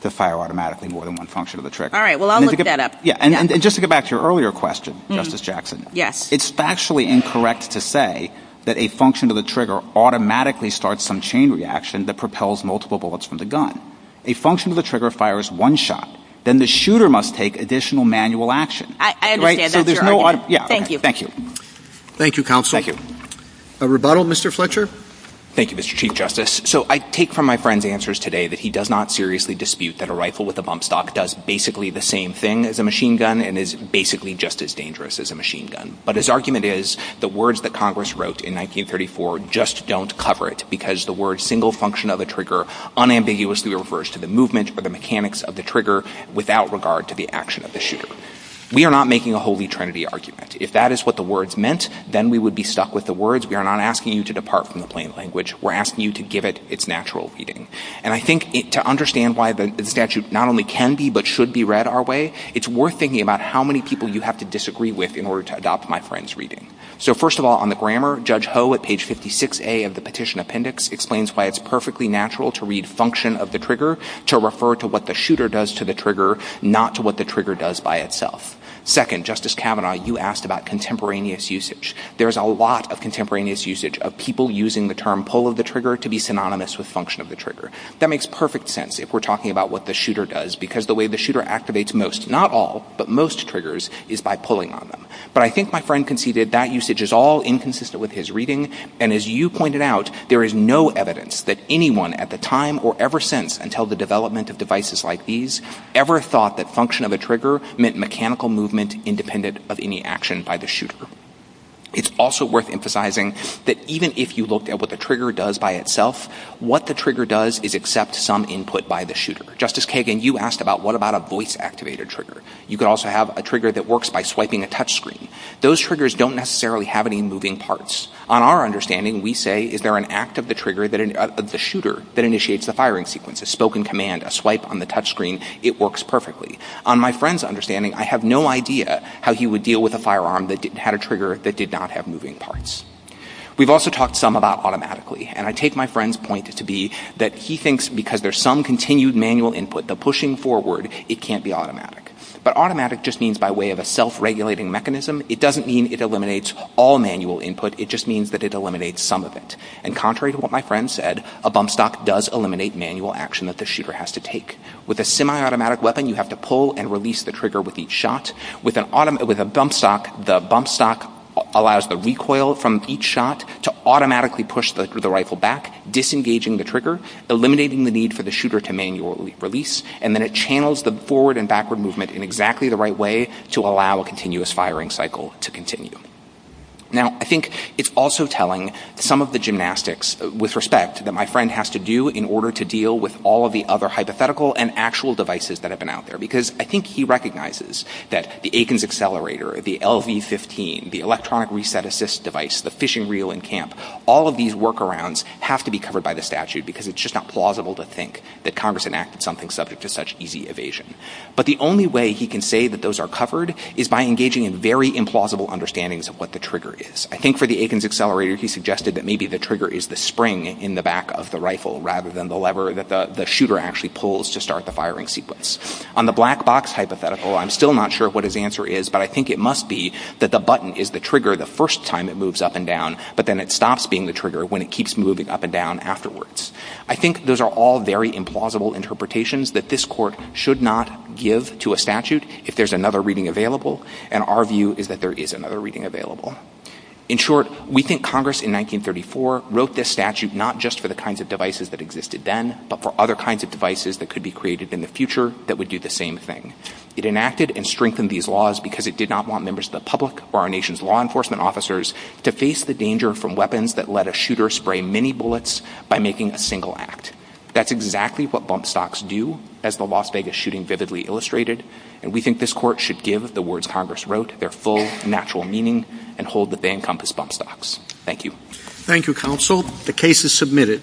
to fire automatically more than one function of the trigger. All right. Well, I'll look that up. And just to get back to your earlier question, Justice Jackson, it's factually incorrect to say that a function of the trigger automatically starts some chain reaction that propels multiple bullets from the gun. A function of the trigger fires one shot. Then the shooter must take additional manual action. I understand. Thank you. Thank you. Thank you, Counsel. Thank you. A rebuttal, Mr. Fletcher? Thank you, Mr. Chief Justice. So I take from my friend's answers today that he does not seriously dispute that a rifle with a bump stock does basically the same thing as a machine gun and is basically just as dangerous as a machine gun. But his argument is the words that Congress wrote in 1934 just don't cover it because the words single function of the trigger unambiguously refers to the movement or the mechanics of the trigger without regard to the action of the shooter. We are not making a holy trinity argument. If that is what the words meant, then we would be stuck with the words. We are not asking you to depart from the plain language. We're asking you to give it its natural reading. And I think to understand why the statute not only can be but should be read our way, it's worth thinking about how many people you have to disagree with in order to adopt my friend's reading. So first of all, on the grammar, Judge Ho at page 56A of the petition appendix explains why it's perfectly natural to read function of the trigger to refer to what the shooter does to the trigger, not to what the trigger does by itself. Second, Justice Kavanaugh, you asked about contemporaneous usage. There's a lot of contemporaneous usage of people using the term pull of the trigger to be synonymous with function of the trigger. That makes perfect sense if we're talking about what the shooter does because the way the shooter activates most, not all, but most triggers is by pulling on them. But I think my friend conceded that usage is all inconsistent with his reading. And as you pointed out, there is no evidence that anyone at the time or ever since until the development of devices like these ever thought that function of a trigger meant mechanical movement independent of any action by the shooter. It's also worth emphasizing that even if you looked at what the trigger does by itself, what the trigger does is accept some input by the shooter. Justice Kagan, you asked about what about a voice activator trigger. You could also have a trigger that works by swiping a touch screen. Those triggers don't necessarily have any moving parts. On our understanding, we say, is there an act of the shooter that initiates the firing sequence? A spoken command, a swipe on the touch screen, it works perfectly. On my friend's understanding, I have no idea how he would deal with a firearm that had a trigger that did not have moving parts. We've also talked some about automatically. And I take my friend's point to be that he thinks because there's some continued manual input, the pushing forward, it can't be automatic. But automatic just means by way of a self-regulating mechanism. It doesn't mean it eliminates all manual input. It just means that it eliminates some of it. And contrary to what my friend said, a bump stock does eliminate manual action that the shooter has to take. With a semi-automatic weapon, you have to pull and release the trigger with each shot. With a bump stock, the bump stock allows the recoil from each shot to automatically push the rifle back, disengaging the trigger, eliminating the need for the shooter to manually release. And then it channels the forward and backward movement in exactly the right way to allow a continuous firing cycle to continue. Now, I think it's also telling some of the gymnastics with respect that my friend has to do in order to deal with all of the other hypothetical and actual devices that have been out there. Because I think he recognizes that the Aikens accelerator, the LV-15, the electronic reset assist device, the fishing reel in camp, all of these workarounds have to be covered by the statute because it's just not plausible to think that Congress enacted something subject to such easy evasion. But the only way he can say that those are covered is by engaging in very implausible understandings of what the trigger is. I think for the Aikens accelerator, he suggested that maybe the trigger is the spring in the back of the rifle rather than the lever that the shooter actually pulls to start the firing sequence. On the black box hypothetical, I'm still not sure what his answer is, but I think it must be that the button is the trigger the first time it moves up and down, but then it stops being the trigger when it keeps moving up and down afterwards. I think those are all very implausible interpretations that this court should not give to a statute if there's another reading available, and our view is that there is another reading available. In short, we think Congress in 1934 wrote this statute not just for the kinds of devices that existed then, but for other kinds of devices that could be created in the future that would do the same thing. It enacted and strengthened these laws because it did not want members of the public or our nation's law enforcement officers to face the danger from weapons that let a shooter spray many bullets by making a single act. That's exactly what bump stocks do, as the Las Vegas shooting vividly illustrated, and we think this court should give the words Congress wrote their full, natural meaning and hold the bank on this bump stocks. Thank you. Thank you, counsel. The case is submitted.